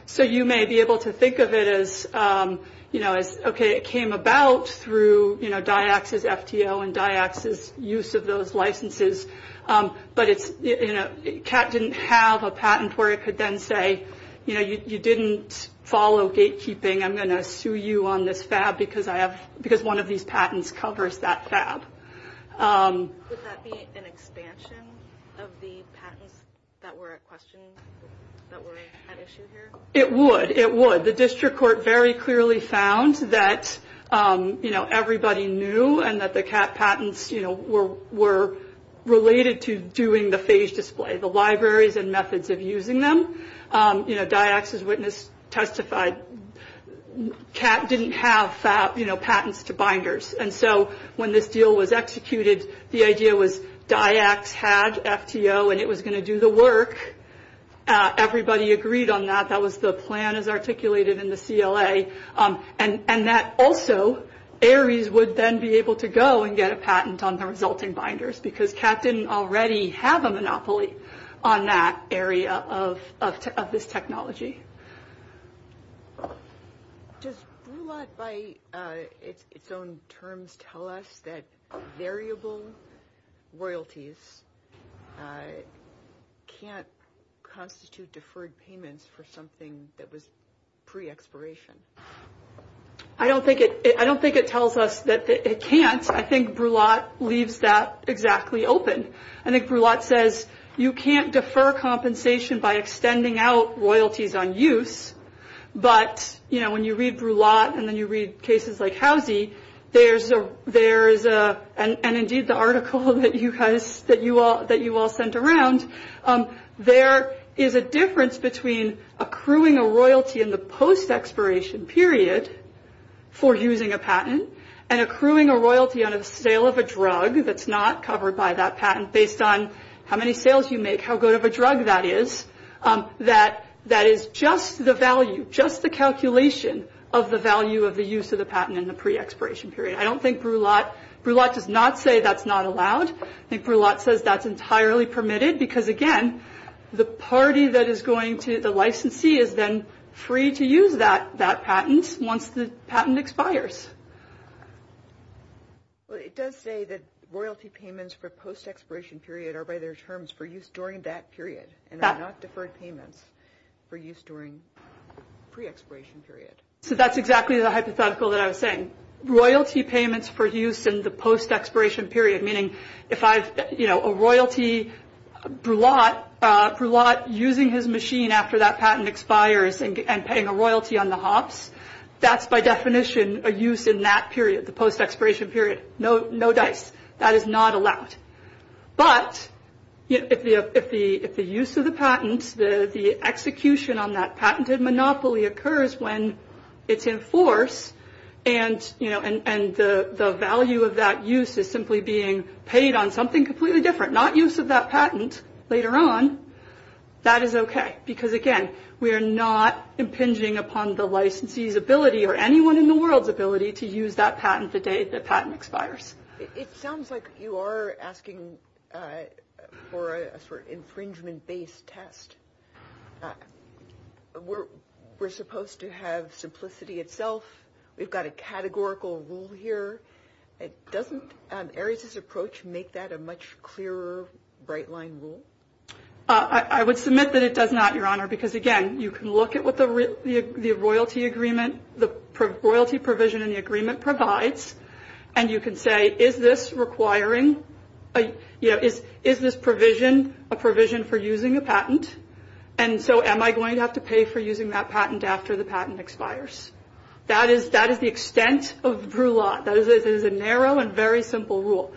So you may be able to think of it as, you know, okay, it came about through, you know, DIACs' FTO and DIACs' use of those licenses, but CAT didn't have a patent where it could then say, you know, you didn't follow gatekeeping. I'm going to sue you on this FAB, because one of these patents covers that FAB. Would that be an expansion of the patents that were at question, that were at issue here? It would. It would. The district court very clearly found that, you know, everybody knew, and that the CAT patents, you know, were related to doing the phage display, the libraries and methods of using them. You know, DIACs' witness testified CAT didn't have, you know, patents to binders. And so when this deal was executed, the idea was DIACs had FTO and it was going to do the work. Everybody agreed on that. That was the plan as articulated in the CLA. And that also, ARIES would then be able to go and get a patent on the resulting binders, because CAT didn't already have a monopoly on that area of this technology. Does BRULAT by its own terms tell us that variable royalties can't constitute deferred payments for something that was pre-expiration? I don't think it tells us that it can't. I think BRULAT leaves that exactly open. I think BRULAT says you can't defer compensation by extending out royalties on use, but, you know, when you read BRULAT and then you read cases like Housie, there's a, and indeed the article that you all sent around, there is a difference between accruing a royalty in the post-expiration period for using a patent and accruing a royalty on a sale of a drug that's not covered by that patent based on how many sales you make, how good of a drug that is. That is just the value, just the calculation of the value of the use of the patent in the pre-expiration period. I don't think BRULAT, BRULAT does not say that's not allowed. I think BRULAT says that's entirely permitted because, again, the party that is going to the licensee is then free to use that patent once the patent expires. But it does say that royalty payments for post-expiration period are by their terms for use during that period and are not deferred payments for use during pre-expiration period. So that's exactly the hypothetical that I was saying. Royalty payments for use in the post-expiration period, meaning if I, you know, a royalty, BRULAT using his machine after that patent expires and paying a royalty on the hops, that's by definition a use in that period, the post-expiration period. No dice. That is not allowed. But if the use of the patent, the execution on that patented monopoly occurs when it's enforced and, you know, the value of that use is simply being paid on something completely different, not use of that patent later on, that is okay. Because, again, we are not impinging upon the licensee's ability or anyone in the world's ability to use that patent the day the patent expires. It sounds like you are asking for an infringement-based test. We're supposed to have simplicity itself. We've got a categorical rule here. Doesn't Ares' approach make that a much clearer, bright-line rule? I would submit that it does not, Your Honor, because, again, you can look at what the royalty agreement, the royalty provision in the agreement provides, and you can say, is this requiring, you know, is this provision a provision for using a patent? And so am I going to have to pay for using that patent after the patent expires? That is the extent of Brulat. That is a narrow and very simple rule.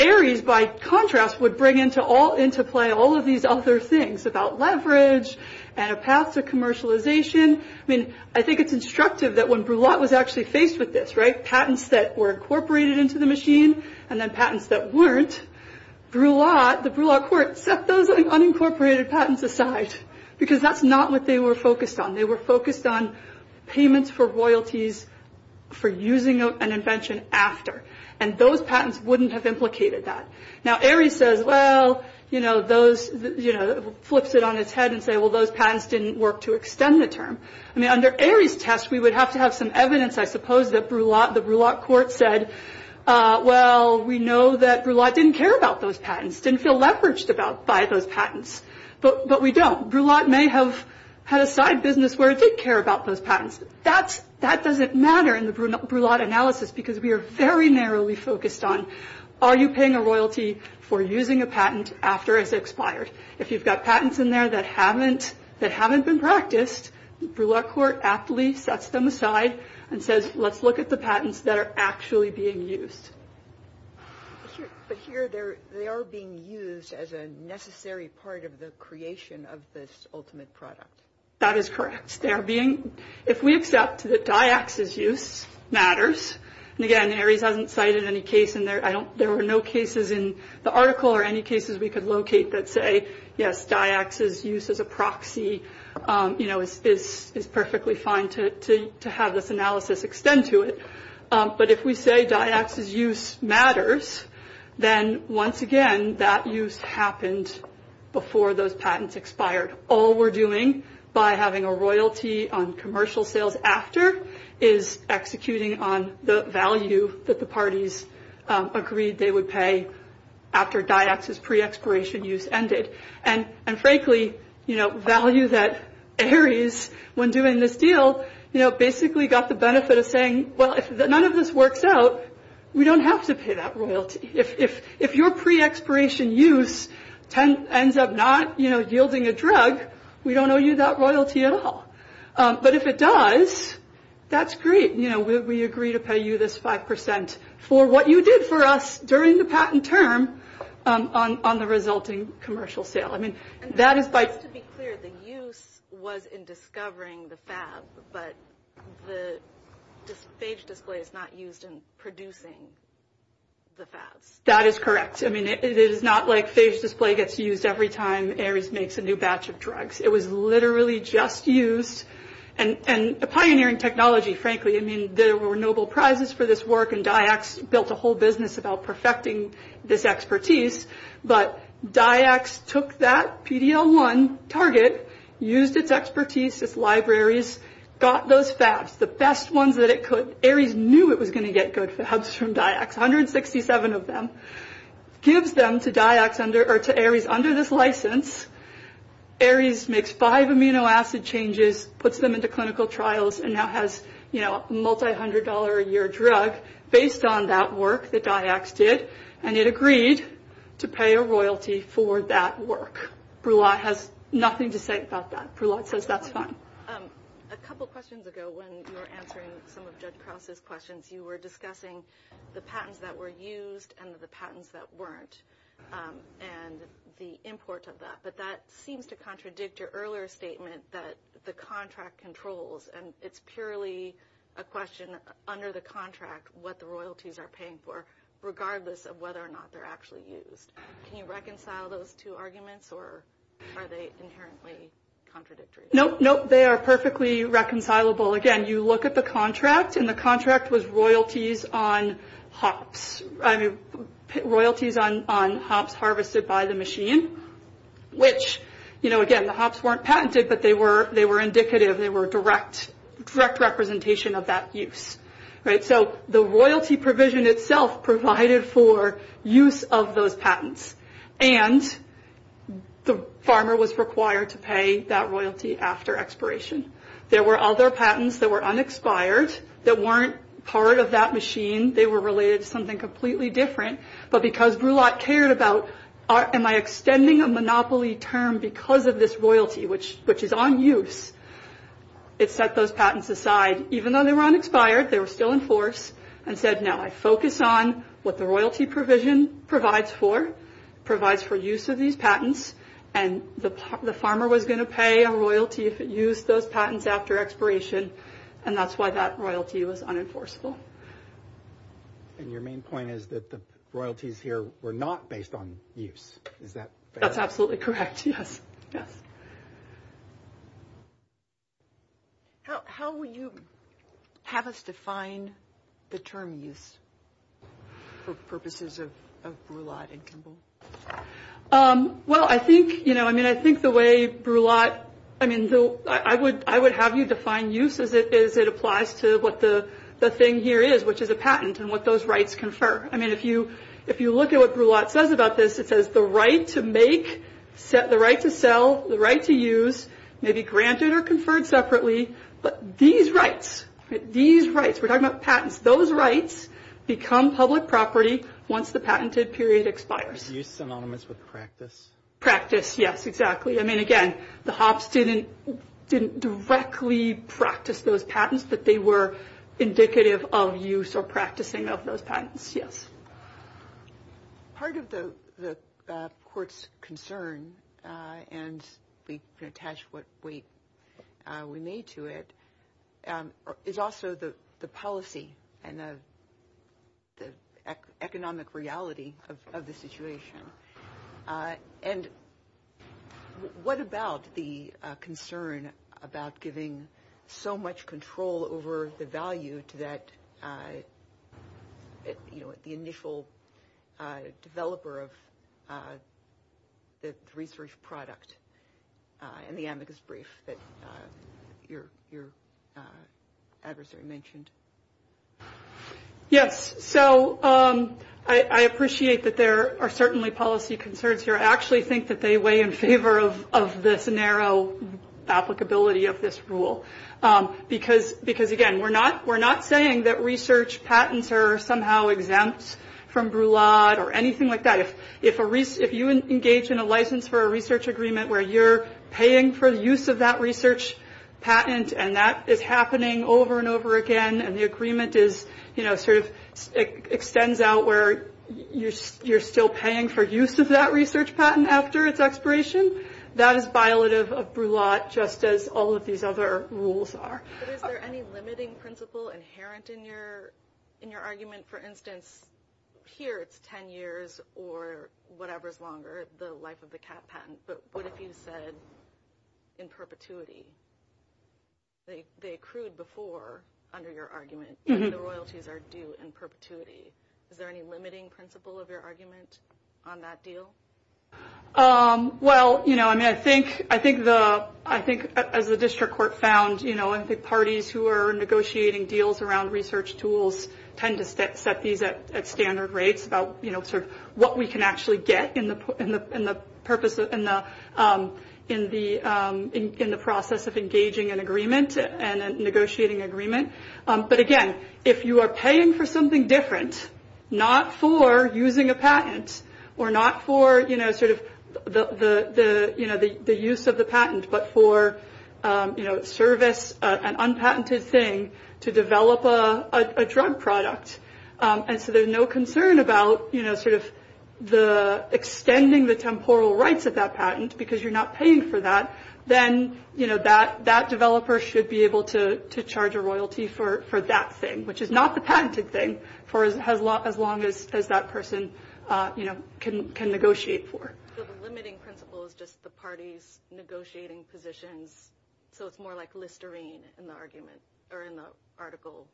Ares, by contrast, would bring into play all of these other things about leverage and a path to commercialization. I mean, I think it's instructive that when Brulat was actually faced with this, right, patents that were incorporated into the machine and then patents that weren't, Brulat, the Brulat court, set those unincorporated patents aside because that's not what they were focused on. They were focused on payments for royalties for using an invention after, and those patents wouldn't have implicated that. Now, Ares says, well, you know, flips it on its head and says, well, those patents didn't work to extend the term. I mean, under Ares' test, we would have to have some evidence, I suppose, that the Brulat court said, well, we know that Brulat didn't care about those patents, didn't feel leveraged by those patents, but we don't. Brulat may have had a side business where it did care about those patents. That doesn't matter in the Brulat analysis because we are very narrowly focused on are you paying a royalty for using a patent after it expires? If you've got patents in there that haven't been practiced, Brulat court aptly sets them aside and says, let's look at the patents that are actually being used. But here they are being used as a necessary part of the creation of this ultimate product. That is correct. If we accept that DIAX's use matters, and again, Ares hasn't cited any case in there. There were no cases in the article or any cases we could locate that say, yes, DIAX's use as a proxy is perfectly fine to have this analysis extend to it. But if we say DIAX's use matters, then once again, that use happened before those patents expired. All we're doing by having a royalty on commercial sales after is executing on the value that the parties agreed they would pay after DIAX's pre-expiration use ended. And frankly, value that Ares, when doing this deal, basically got the benefit of saying, well, if none of this works out, we don't have to pay that royalty. If your pre-expiration use ends up not yielding a drug, we don't owe you that royalty at all. But if it does, that's great. We agree to pay you this 5% for what you did for us during the patent term on the resulting commercial sale. To be clear, the use was in discovering the fab, but the phage display is not used in producing the fab. That is correct. It is not like phage display gets used every time Ares makes a new batch of drugs. It was literally just used. And the pioneering technology, frankly, I mean, there were noble prizes for this work, and DIAX built a whole business about perfecting this expertise. But DIAX took that PD-L1 target, used its expertise, its libraries, got those fabs, the best ones that it could. Ares knew it was going to get good fabs from DIAX, 167 of them. Gives them to Ares under this license. Ares makes five amino acid changes, puts them into clinical trials, and now has a multi-hundred-dollar-a-year drug based on that work that DIAX did, and it agreed to pay a royalty for that work. Bruat has nothing to say about that. Bruat says that's fine. A couple questions ago when you were answering some of Judge Krause's questions, you were discussing the patents that were used and the patents that weren't and the imports of that. But that seems to contradict your earlier statement that the contract controls, and it's purely a question under the contract what the royalties are paying for, regardless of whether or not they're actually used. Can you reconcile those two arguments, or are they inherently contradictory? Nope, nope, they are perfectly reconcilable. Again, you look at the contract, and the contract was royalties on hops, royalties on hops harvested by the machine, which, you know, again, the hops weren't patented, but they were indicative. They were direct representation of that use. So the royalty provision itself provided for use of those patents, and the farmer was required to pay that royalty after expiration. There were other patents that were unexpired that weren't part of that machine. They were related to something completely different, but because Bruat cared about am I extending a monopoly term because of this royalty, which is on use, it set those patents aside. Even though they were unexpired, they were still enforced, and said, no, I focus on what the royalty provision provides for, provides for use of these patents, and the farmer was going to pay a royalty if it used those patents after expiration, and that's why that royalty was unenforceable. And your main point is that the royalties here were not based on use. That's absolutely correct, yes. How will you have us define the term use for purposes of Bruat and Kimball? Well, I think, you know, I mean, I think the way Bruat, I mean, I would have you define use as it applies to what the thing here is, which is a patent and what those rights confer. I mean, if you look at what Bruat says about this, it says the right to make, the right to sell, the right to use may be granted or conferred separately, but these rights, these rights, we're talking about patents, those rights become public property once the patented period expires. Use is synonymous with practice. Practice, yes, exactly. I mean, again, the Hobbs didn't directly practice those patents, but they were indicative of use or practicing of those patents, yes. Part of the court's concern, and we can attach what we made to it, is also the policy and the economic reality of the situation. And what about the concern about giving so much control over the value to that, you know, the initial developer of the research product and the amicus brief that your adversary mentioned? Yes, so I appreciate that there are certainly policy concerns here. I actually think that they weigh in favor of this narrow applicability of this rule, because, again, we're not saying that research patents are somehow exempt from Bruat or anything like that. If you engage in a license for a research agreement where you're paying for the use of that research patent and that is happening over and over again and the agreement is, you know, sort of extends out where you're still paying for use of that research patent after its expiration, that is violative of Bruat just as all of these other rules are. But is there any limiting principle inherent in your argument? For instance, here it's 10 years or whatever is longer, the life of the CAT patent, but what if you said in perpetuity? They accrued before under your argument, and the royalties are due in perpetuity. Is there any limiting principle of your argument on that deal? Well, you know, I mean, I think as the district court found, you know, and the parties who are negotiating deals around research tools tend to set these at standard rates about, you know, sort of what we can actually get in the process of engaging an agreement and a negotiating agreement. But, again, if you are paying for something different, not for using a patent or not for, you know, sort of the use of the patent but for, you know, service an unpatented thing to develop a drug product and so there's no concern about, you know, sort of the extending the temporal rights of that patent because you're not paying for that, then, you know, that developer should be able to charge a royalty for that thing, which is not the patented thing for as long as that person, you know, can negotiate for. So the limiting principle is just the parties negotiating positions, so it's more like Listerine in the argument or in the article?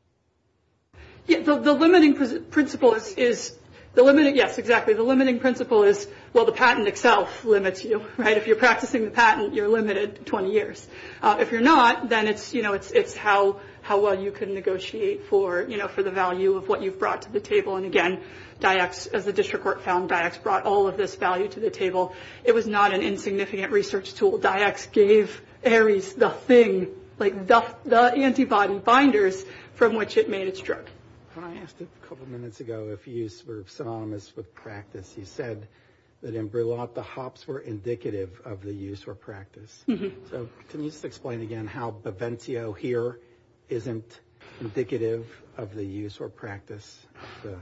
Yes, so the limiting principle is the limiting, yes, exactly. The limiting principle is, well, the patent itself limits you, right? If you're practicing the patent, you're limited 20 years. If you're not, then it's, you know, it's how well you can negotiate for, you know, for the value of what you've brought to the table. And, again, DIACS, the district court found DIACS brought all of this value to the table. It was not an insignificant research tool. DIACS gave ARES the thing, like the antibody binders from which it made its drug. I asked a couple of minutes ago if use were synonymous with practice. You said that in Brillat, the hops were indicative of the use or practice. So can you just explain again how Beventio here isn't indicative of the use or practice of,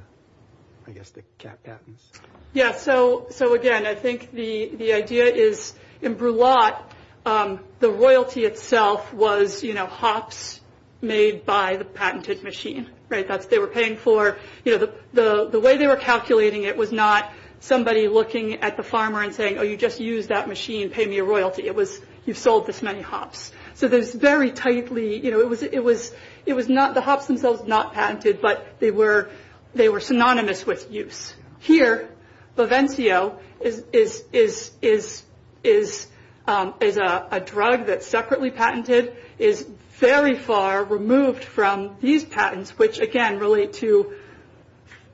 I guess, the CAT patents? Yes, so, again, I think the idea is in Brillat, the royalty itself was, you know, hops made by the patented machine, right? They were paying for, you know, the way they were calculating it was not somebody looking at the farmer and saying, you know, you just use that machine, pay me a royalty. It was you've sold this many hops. So there's very tightly, you know, it was not the hops themselves not patented, but they were synonymous with use. Here, Beventio is a drug that's separately patented, is very far removed from these patents, which, again, relate to,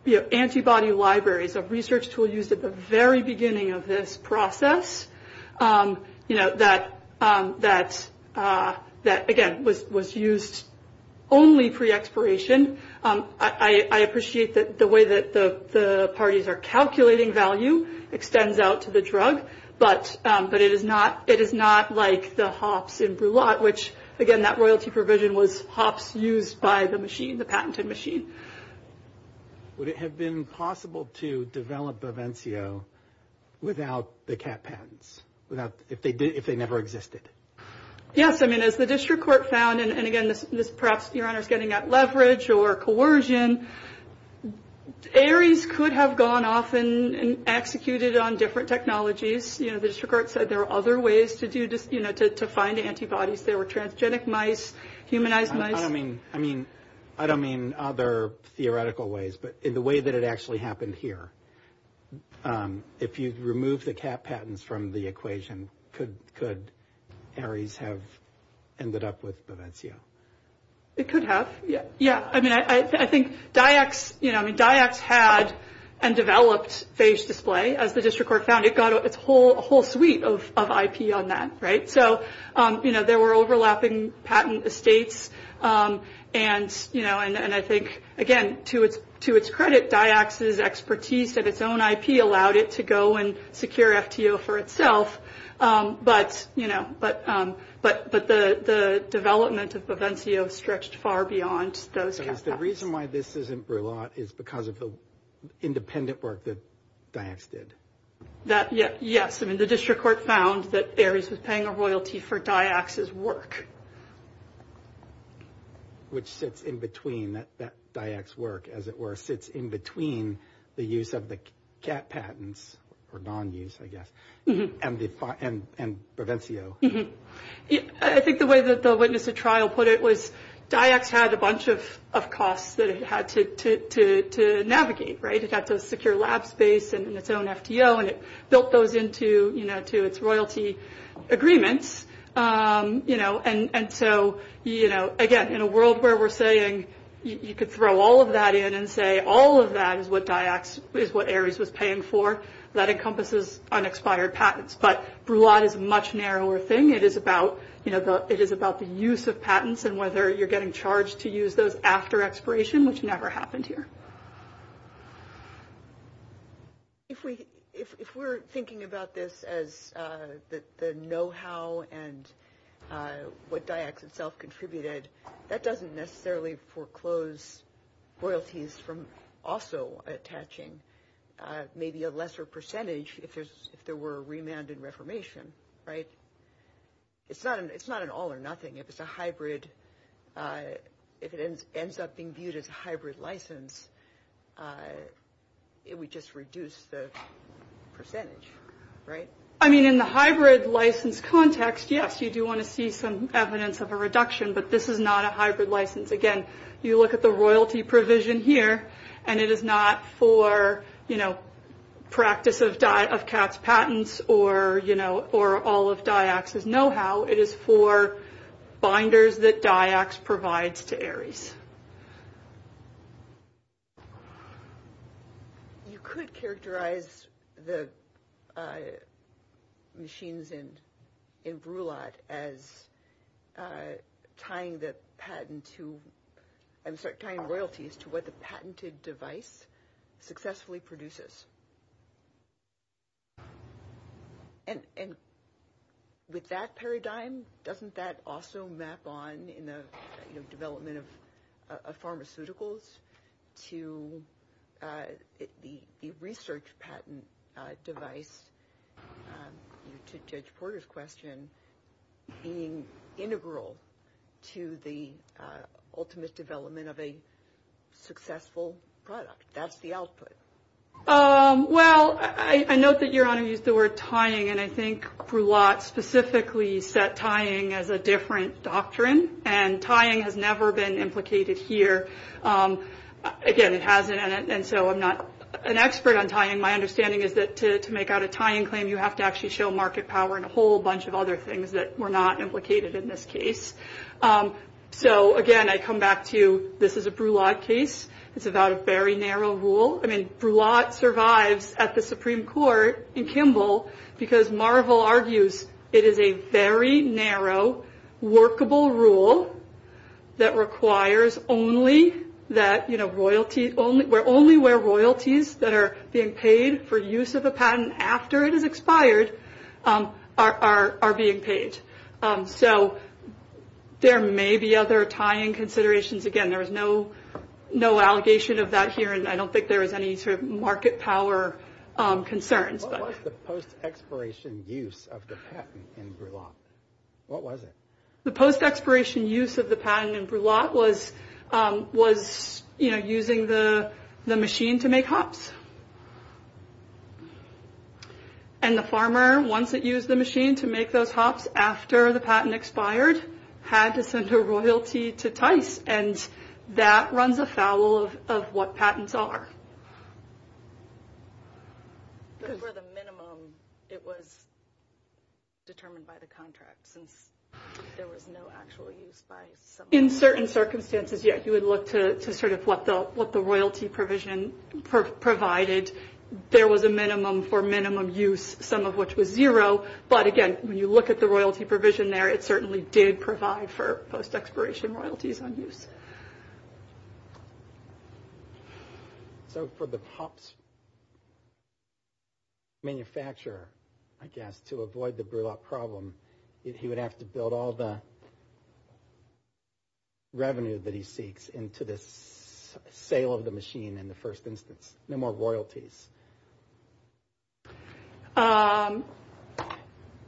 you know, antibody libraries, a research tool used at the very beginning of this process, you know, that, again, was used only pre-expiration. I appreciate the way that the parties are calculating value extends out to the drug, but it is not like the hops in Brillat, which, again, that royalty provision was hops used by the machine, the patented machine. Would it have been possible to develop Beventio without the CAT patents, if they never existed? Yes, I mean, as the district court found, and, again, perhaps your Honor is getting at leverage or coercion, ARES could have gone off and executed on different technologies. You know, the district court said there are other ways to do this, you know, to find antibodies. There were transgenic mice, humanized mice. I mean, I don't mean other theoretical ways, but the way that it actually happened here, if you remove the CAT patents from the equation, could ARES have ended up with Beventio? It could have. Yeah, I mean, I think DIACS, you know, I mean, DIACS had and developed phage display, as the district court found. It got a whole suite of IP on that, right? So, you know, there were overlapping patent estates, and, you know, and I think, again, to its credit, DIACS's expertise of its own IP allowed it to go and secure FTO for itself. But, you know, but the development of Beventio stretched far beyond those. The reason why this isn't brought up is because of the independent work that DIACS did. Yes, I mean, the district court found that ARES was paying a royalty for DIACS's work. Which sits in between that DIACS's work, as it were, sits in between the use of the CAT patents, or non-use, I guess, and Beventio. I think the way that the witness at trial put it was DIACS had a bunch of costs that it had to navigate, right? It had to secure lab space and its own FTO, and it built those into, you know, to its royalty agreements. You know, and so, you know, again, in a world where we're saying you could throw all of that in and say all of that is what ARES was paying for, that encompasses unexpired patents. But Bruat is a much narrower thing. It is about, you know, it is about the use of patents and whether you're getting charged to use those after expiration, which never happened here. If we're thinking about this as the know-how and what DIACS itself contributed, that doesn't necessarily foreclose royalties from also attaching maybe a lesser percentage if there were a remand and reformation, right? It's not an all or nothing. If it's a hybrid, if it ends up being viewed as a hybrid license, it would just reduce the percentage, right? I mean, in the hybrid license context, yes, you do want to see some evidence of a reduction, but this is not a hybrid license. Again, you look at the royalty provision here, and it is not for, you know, practice of tax patents or, you know, for all of DIACS's know-how. It is for binders that DIACS provides to ARES. You could characterize the machines in Brulot as tying the patent to, I'm sorry, tying royalties to what the patented device successfully produces. And with that paradigm, doesn't that also map on in the development of pharmaceuticals to the research patent device, to Judge Porter's question, being integral to the ultimate development of a successful product? That's the output. Well, I note that you're going to use the word tying, and I think Brulot specifically set tying as a different doctrine, and tying has never been implicated here. Again, it hasn't, and so I'm not an expert on tying. My understanding is that to make out a tying claim, you have to actually show market power and a whole bunch of other things that were not implicated in this case. So, again, I come back to this is a Brulot case. It's about a very narrow rule. I mean, Brulot survives at the Supreme Court in Kimball because Marvel argues it is a very narrow, workable rule that requires only that, you know, royalties, where only where royalties that are being paid for use of the patent after it has expired are being paid. So, there may be other tying considerations. Again, there's no allegation of that here, and I don't think there's any sort of market power concerns. What was the post-expiration use of the patent in Brulot? What was it? The post-expiration use of the patent in Brulot was, you know, using the machine to make hops, and the farmer, once it used the machine to make those hops after the patent expired, had to send a royalty to Tice, and that runs afoul of what patents are. But for the minimum, it was determined by the contract, so there was no actual use by somebody? In certain circumstances, yes. You would look to sort of what the royalty provision provided. There was a minimum for minimum use, some of which was zero, but, again, when you look at the royalty provision there, it certainly did provide for post-expiration royalties on use. So, for the hops manufacturer, I guess, to avoid the Brulot problem, he would have to build all the revenue that he seeks into this sale of the machine in the first instance. No more royalties.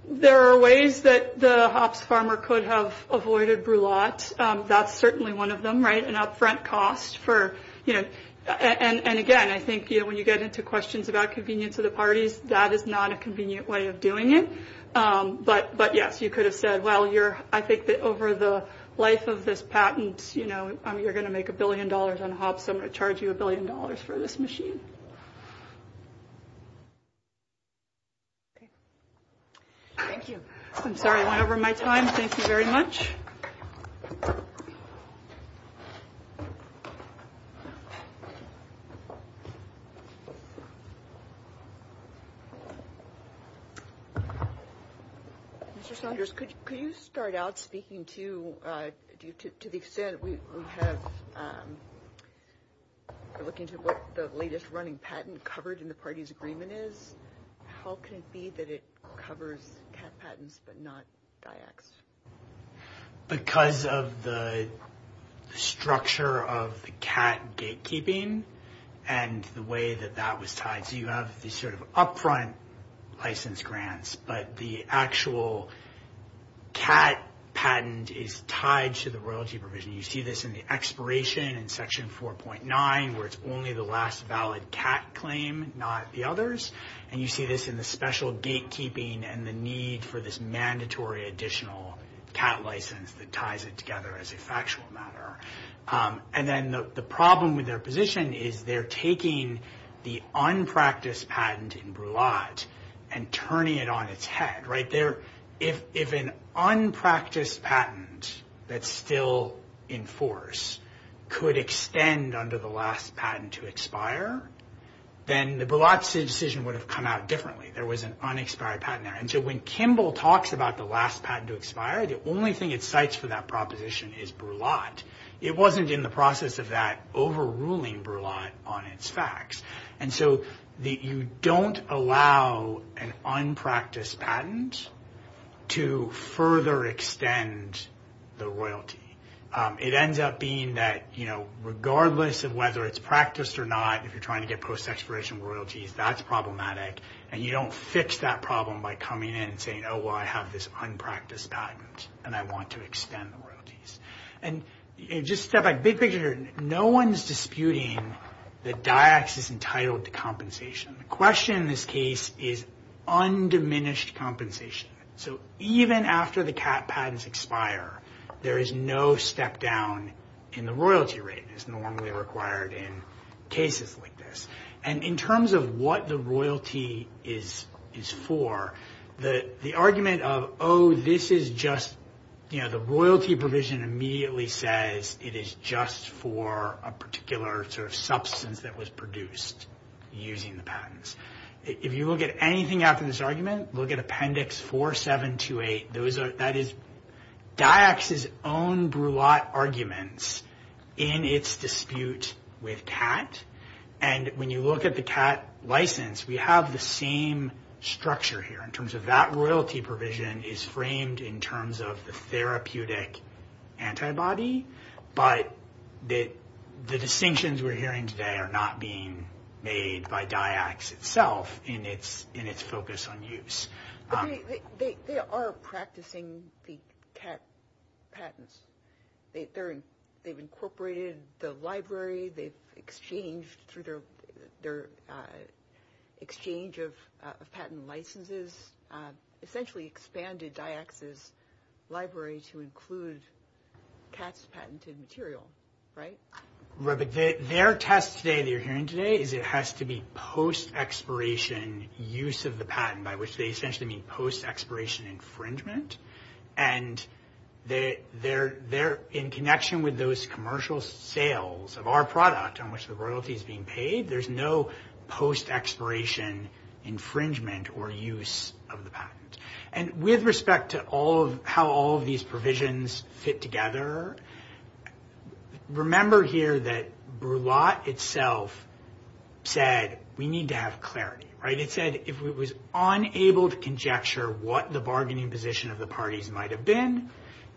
There are ways that the hops farmer could have avoided Brulot. That's certainly one of them, right, an upfront cost for, you know, and, again, I think when you get into questions about convenience of the parties, that is not a convenient way of doing it. But, yes, you could have said, well, I think that over the life of this patent, you know, you're going to make a billion dollars on hops, so I'm going to charge you a billion dollars for this machine. Thank you. I'm sorry, I went over my time. Thank you very much. Okay. Mr. Saunders, could you start out speaking to the extent that we have, looking to what the latest running patent covered in the parties' agreement is? How could it be that it covers cat patents but not DIACs? Because of the structure of the cat gatekeeping and the way that that was tied. So you have this sort of upfront license grants, but the actual cat patent is tied to the royalty provision. You see this in the expiration in Section 4.9, where it's only the last valid cat claim, not the others. And you see this in the special gatekeeping and the need for this mandatory additional cat license that ties it together as a factual matter. And then the problem with their position is they're taking the unpracticed patent in brulette and turning it on its head, right? If an unpracticed patent that's still in force could extend under the last patent to expire, then the brulette decision would have come out differently. There was an unexpired patent there. And so when Kimball talks about the last patent to expire, the only thing it cites for that proposition is brulette. It wasn't in the process of that overruling brulette on its facts. And so you don't allow an unpracticed patent to further extend the royalty. It ends up being that, you know, regardless of whether it's practiced or not, if you're trying to get post-expiration royalties, that's problematic. And you don't fix that problem by coming in and saying, oh, well, I have this unpracticed patent, and I want to extend the royalties. And just step back. Big picture, no one is disputing that DIAC is entitled to compensation. The question in this case is undiminished compensation. So even after the CAT patents expire, there is no step down in the royalty rate that's normally required in cases like this. And in terms of what the royalty is for, the argument of, oh, this is just, you know, the royalty provision immediately says it is just for a particular sort of substance that was produced using the patents. If you look at anything after this argument, look at Appendix 4728. That is DIAC's own brulette arguments in its dispute with CAT. And when you look at the CAT license, we have the same structure here in terms of that royalty provision is framed in terms of the therapeutic antibody. But the distinctions we're hearing today are not being made by DIAC itself in its focus on use. They are practicing the CAT patents. They've incorporated the library. They've exchanged through their exchange of patent licenses, essentially expanded DIAC's library to include CAT's patented material, right? Right. But their test today that you're hearing today is it has to be post-expiration use of the patent, by which they essentially mean post-expiration infringement. And they're in connection with those commercial sales of our product on which the royalty is being paid. There's no post-expiration infringement or use of the patent. And with respect to how all of these provisions fit together, remember here that brulette itself said we need to have clarity, right?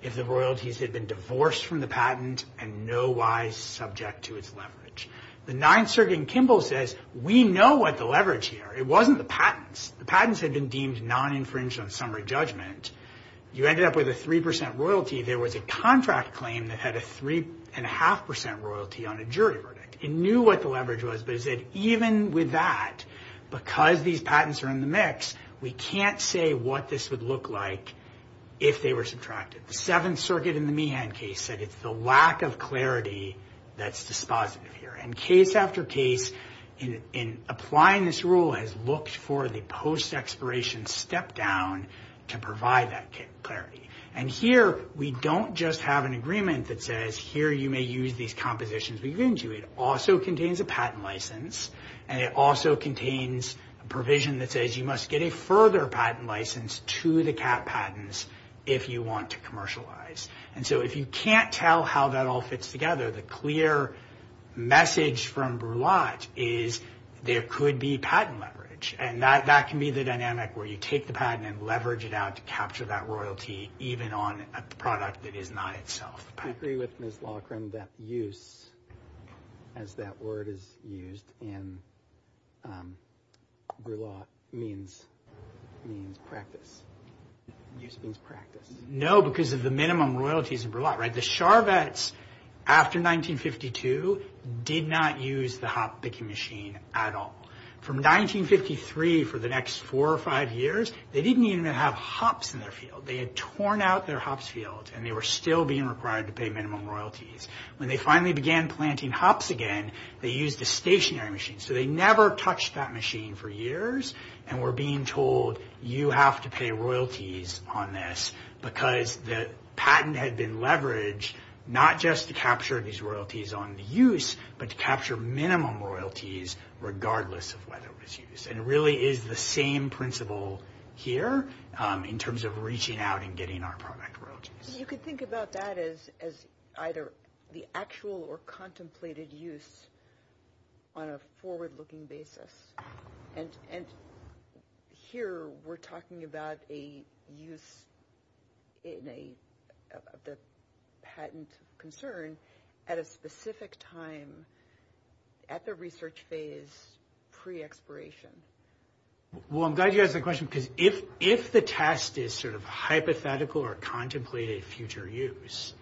If the royalties had been divorced from the patent and no wise subject to its leverage. The Ninth Circuit in Kimball says we know what the leverage here. It wasn't the patents. The patents had been deemed non-infringed on summary judgment. You ended up with a 3% royalty. There was a contract claim that had a 3.5% royalty on a jury verdict. It knew what the leverage was, but it said even with that, because these patents are in the mix, we can't say what this would look like if they were subtracted. The Seventh Circuit in the Meehan case said it's the lack of clarity that's dispositive here. And case after case, in applying this rule, has looked for the post-expiration step-down to provide that clarity. And here, we don't just have an agreement that says, here you may use these compositions we've given to you. It also contains a patent license, and it also contains a provision that says you must get a further patent license to the CAT patents if you want to commercialize. And so if you can't tell how that all fits together, the clear message from Brulotte is there could be patent leverage. And that can be the dynamic where you take the patent and leverage it out to capture that royalty, even on a product that is not itself a patent. Do you agree with Ms. Loughran that use, as that word is used in Brulotte, means practice? Use means practice. No, because of the minimum royalties in Brulotte, right? The Charvettes, after 1952, did not use the hop picking machine at all. From 1953 for the next four or five years, they didn't even have hops in their field. They had torn out their hops field, and they were still being required to pay minimum royalties. When they finally began planting hops again, they used a stationary machine. So they never touched that machine for years and were being told, you have to pay royalties on this because the patent had been leveraged not just to capture these royalties on the use, but to capture minimum royalties regardless of whether it was used. And it really is the same principle here in terms of reaching out and getting our product royalties. You could think about that as either the actual or contemplated use on a forward-looking basis. And here we're talking about a use in a patent concern at a specific time at the research phase pre-expiration. Well, I'm glad you asked that question because if the test is sort of hypothetical or contemplated future use,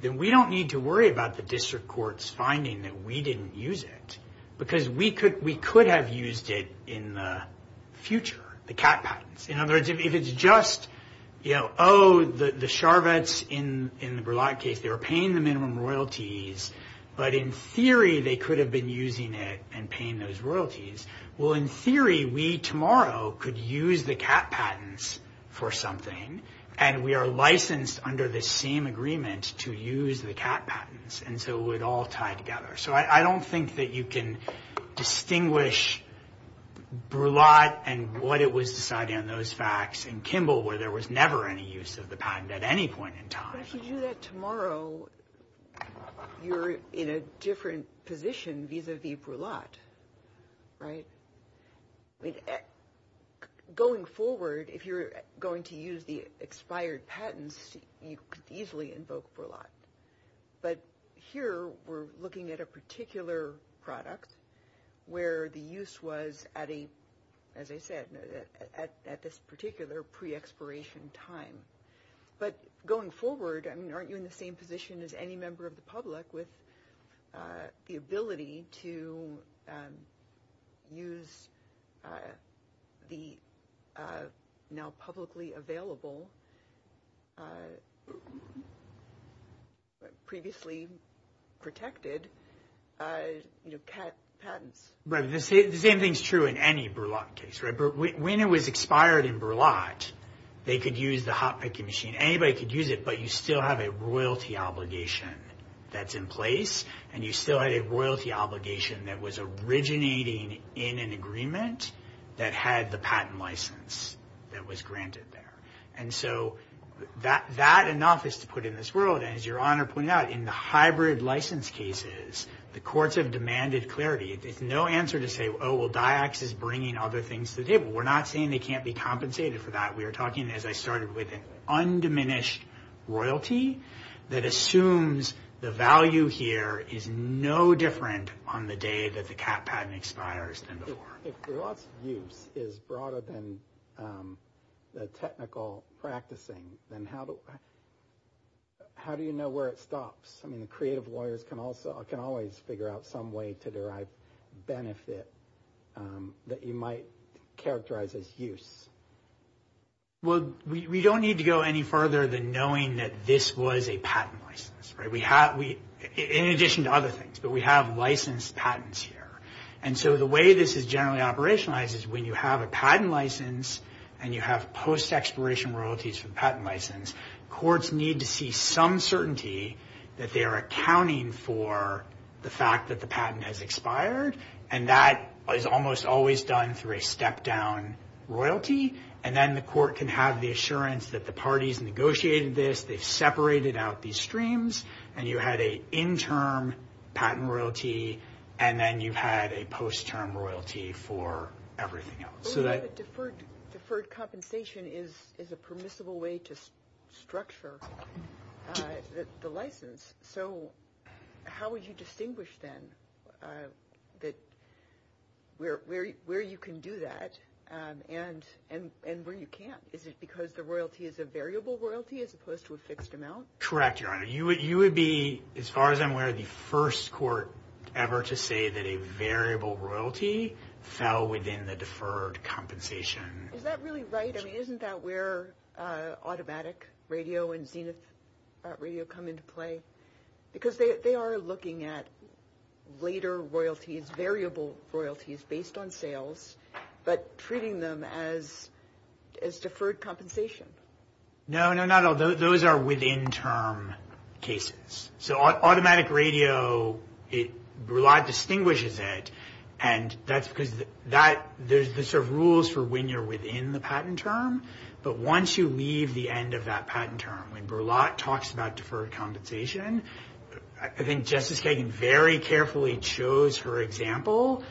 then we don't need to worry about the district court's finding that we didn't use it because we could have used it in the future, the cat patents. In other words, if it's just, you know, oh, the Charvettes in the Berlant case, they were paying the minimum royalties, but in theory, they could have been using it and paying those royalties. Well, in theory, we tomorrow could use the cat patents for something, and we are licensed under the same agreement to use the cat patents, and so it would all tie together. So I don't think that you can distinguish Berlant and what it was decided on those facts in Kimball where there was never any use of the patent at any point in time. But if you do that tomorrow, you're in a different position vis-a-vis Berlant, right? Going forward, if you're going to use the expired patents, you could easily invoke Berlant. But here, we're looking at a particular product where the use was at a, as I said, at this particular pre-expiration time. But going forward, I mean, aren't you in the same position as any member of the public with the ability to use the now publicly available, previously protected, you know, cat patents? Right. The same thing is true in any Berlant case. When it was expired in Berlant, they could use the hot picking machine. I mean, anybody could use it, but you still have a royalty obligation that's in place, and you still had a royalty obligation that was originating in an agreement that had the patent license that was granted there. And so that enough is to put in this world. And as Your Honor pointed out, in the hybrid license cases, the courts have demanded clarity. There's no answer to say, oh, well, DIACS is bringing other things to the table. We're not saying they can't be compensated for that. We are talking, as I started, with an undiminished royalty that assumes the value here is no different on the day that the cat patent expires than before. If Berlant's use is broader than the technical practicing, then how do you know where it stops? I mean, a creative lawyer can always figure out some way to derive benefit that you might characterize as use. Well, we don't need to go any further than knowing that this was a patent license. In addition to other things, but we have licensed patents here. And so the way this is generally operationalized is when you have a patent license and you have post-exploration royalties for a patent license, courts need to see some certainty that they are accounting for the fact that the patent has expired. And that is almost always done through a step-down royalty. And then the court can have the assurance that the parties negotiated this, they separated out these streams, and you had a interim patent royalty, and then you had a post-term royalty for everything else. Deferred compensation is a permissible way to structure the license. So how would you distinguish then where you can do that and where you can't? Is it because the royalty is a variable royalty as opposed to a fixed amount? Correct, Your Honor. You would be, as far as I'm aware, the first court ever to say that a variable royalty fell within the deferred compensation. Is that really right? I mean, isn't that where automatic radio and DENIS radio come into play? Because they are looking at later royalties, variable royalties based on sales, but treating them as deferred compensation. No, no, no. Those are within-term cases. So automatic radio, Brulat distinguishes it, and that's because there's sort of rules for when you're within the patent term. But once you leave the end of that patent term, when Brulat talks about deferred compensation, I think Justice Kagan very carefully chose her example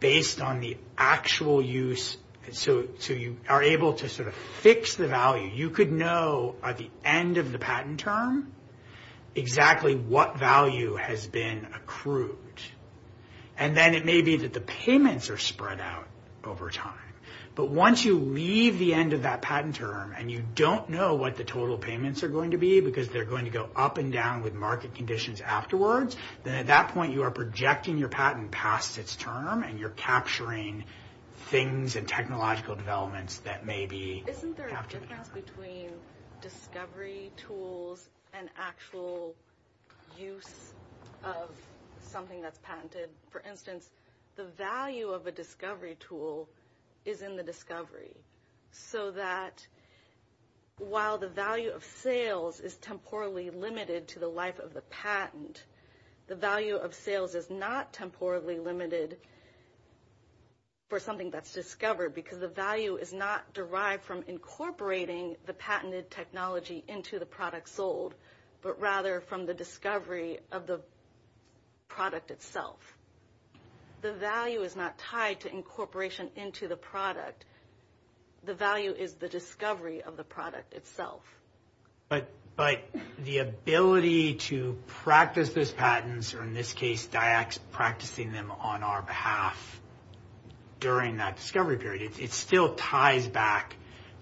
based on the actual use. So you are able to sort of fix the value. You could know at the end of the patent term exactly what value has been accrued, and then it may be that the payments are spread out over time. But once you leave the end of that patent term and you don't know what the total payments are going to be because they're going to go up and down with market conditions afterwards, then at that point you are projecting your patent past its term and you're capturing things and technological developments that may be captured. Isn't there a difference between discovery tools and actual use of something that's patented? For instance, the value of a discovery tool is in the discovery, so that while the value of sales is temporally limited to the life of the patent, the value of sales is not temporally limited for something that's discovered because the value is not derived from incorporating the patented technology into the product sold, but rather from the discovery of the product itself. The value is not tied to incorporation into the product. The value is the discovery of the product itself. But the ability to practice those patents, or in this case practicing them on our behalf during that discovery period, it still ties back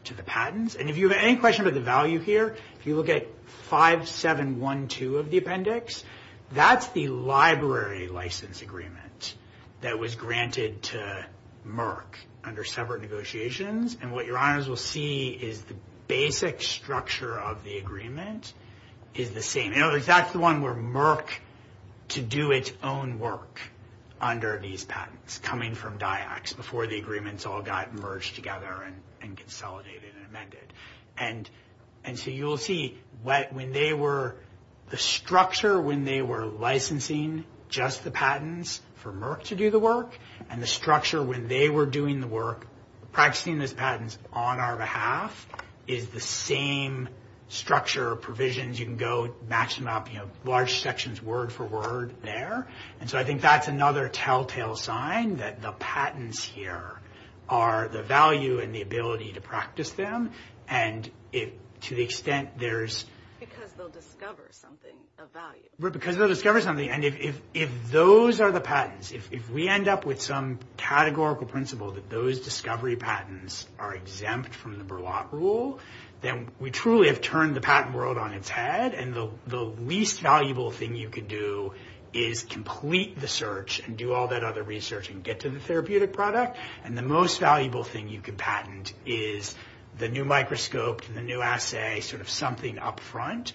to the patents. And if you have any question about the value here, if you look at 5712 of the appendix, that's the library license agreement that was granted to Merck under separate negotiations, and what your honors will see is the basic structure of the agreement is the same. In other words, that's the one where Merck could do its own work under these patents coming from DIACS before the agreements all got merged together and consolidated and amended. And so you'll see when they were, the structure when they were licensing just the patents for Merck to do the work, and the structure when they were doing the work, practicing those patents on our behalf, is the same structure of provisions. You can go match them up, you know, large sections word for word there. And so I think that's another telltale sign that the patents here are the value and the ability to practice them, and to the extent there's... Because they'll discover something of value. Because they'll discover something, and if those are the patents, if we end up with some categorical principle that those discovery patents are exempt from the Berlac rule, then we truly have turned the patent world on its head, and the least valuable thing you can do is complete the search and do all that other research and get to the therapeutic product, and the most valuable thing you can patent is the new microscope and the new assay, sort of something up front,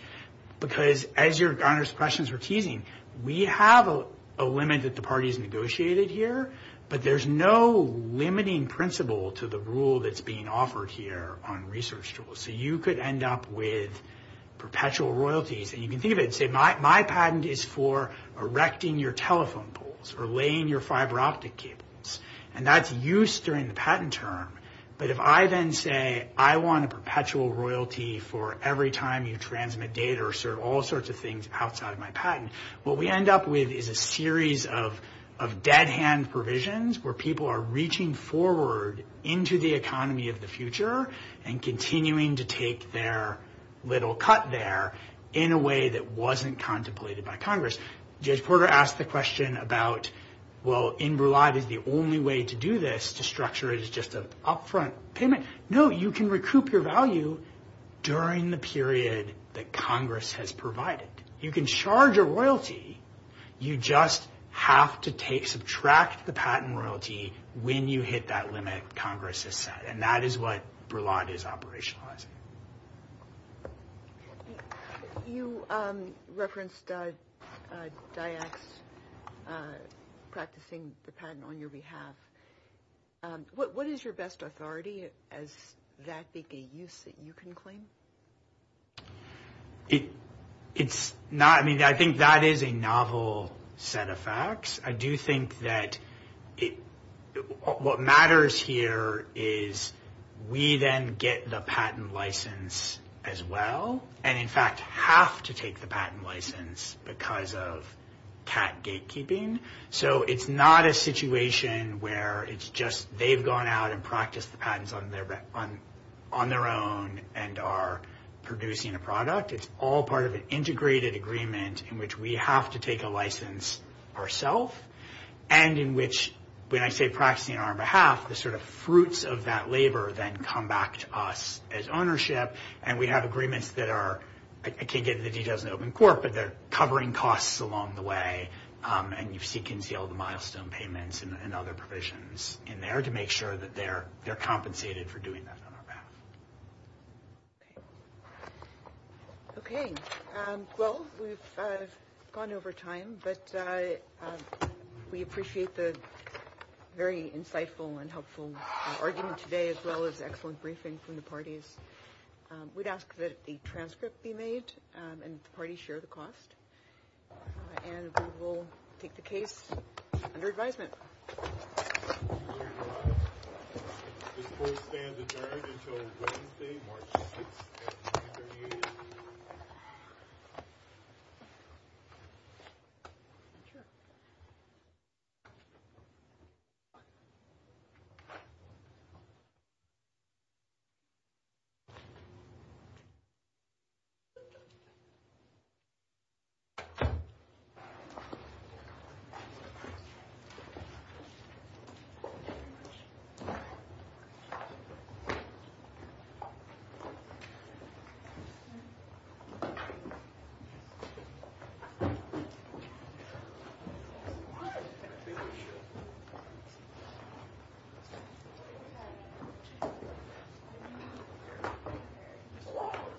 because as your questions were teasing, we have a limit that the parties negotiated here, but there's no limiting principle to the rule that's being offered here on research tools. So you could end up with perpetual royalties, and you can think of it, say my patent is for erecting your telephone poles or laying your fiber optic cables, and that's used during the patent term, but if I then say I want a perpetual royalty for every time you transmit data or serve all sorts of things outside my patent, what we end up with is a series of dead-hand provisions where people are reaching forward into the economy of the future and continuing to take their little cut there in a way that wasn't contemplated by Congress. Jay Porter asked the question about, well, in Berlant, is the only way to do this, to structure it as just an up-front payment? No, you can recoup your value during the period that Congress has provided. You can charge a royalty, you just have to subtract the patent royalty when you hit that limit Congress has set, and that is what Berlant is operationalizing. You referenced DIACT practicing the patent on your behalf. What is your best authority as that big a use that you can claim? It's not, I mean, I think that is a novel set of facts. I do think that what matters here is we then get the patent license as well and, in fact, have to take the patent license because of TAT gatekeeping. So it's not a situation where it's just they've gone out and practiced the patents on their own and are producing a product. It's all part of an integrated agreement in which we have to take a license ourselves and in which, when I say practicing on our behalf, the sort of fruits of that labor then come back to us as ownership and we have agreements that are, I can't get into the details in open court, but they're covering costs along the way and you can see all the milestone payments and other provisions in there to make sure that they're compensated for doing that on our behalf. Okay. Well, we've gone over time, but we appreciate the very insightful and helpful argument today as well as the excellent briefing from the parties. We'd ask that a transcript be made and the parties share the cost and we will take the case under advisement. Thank you.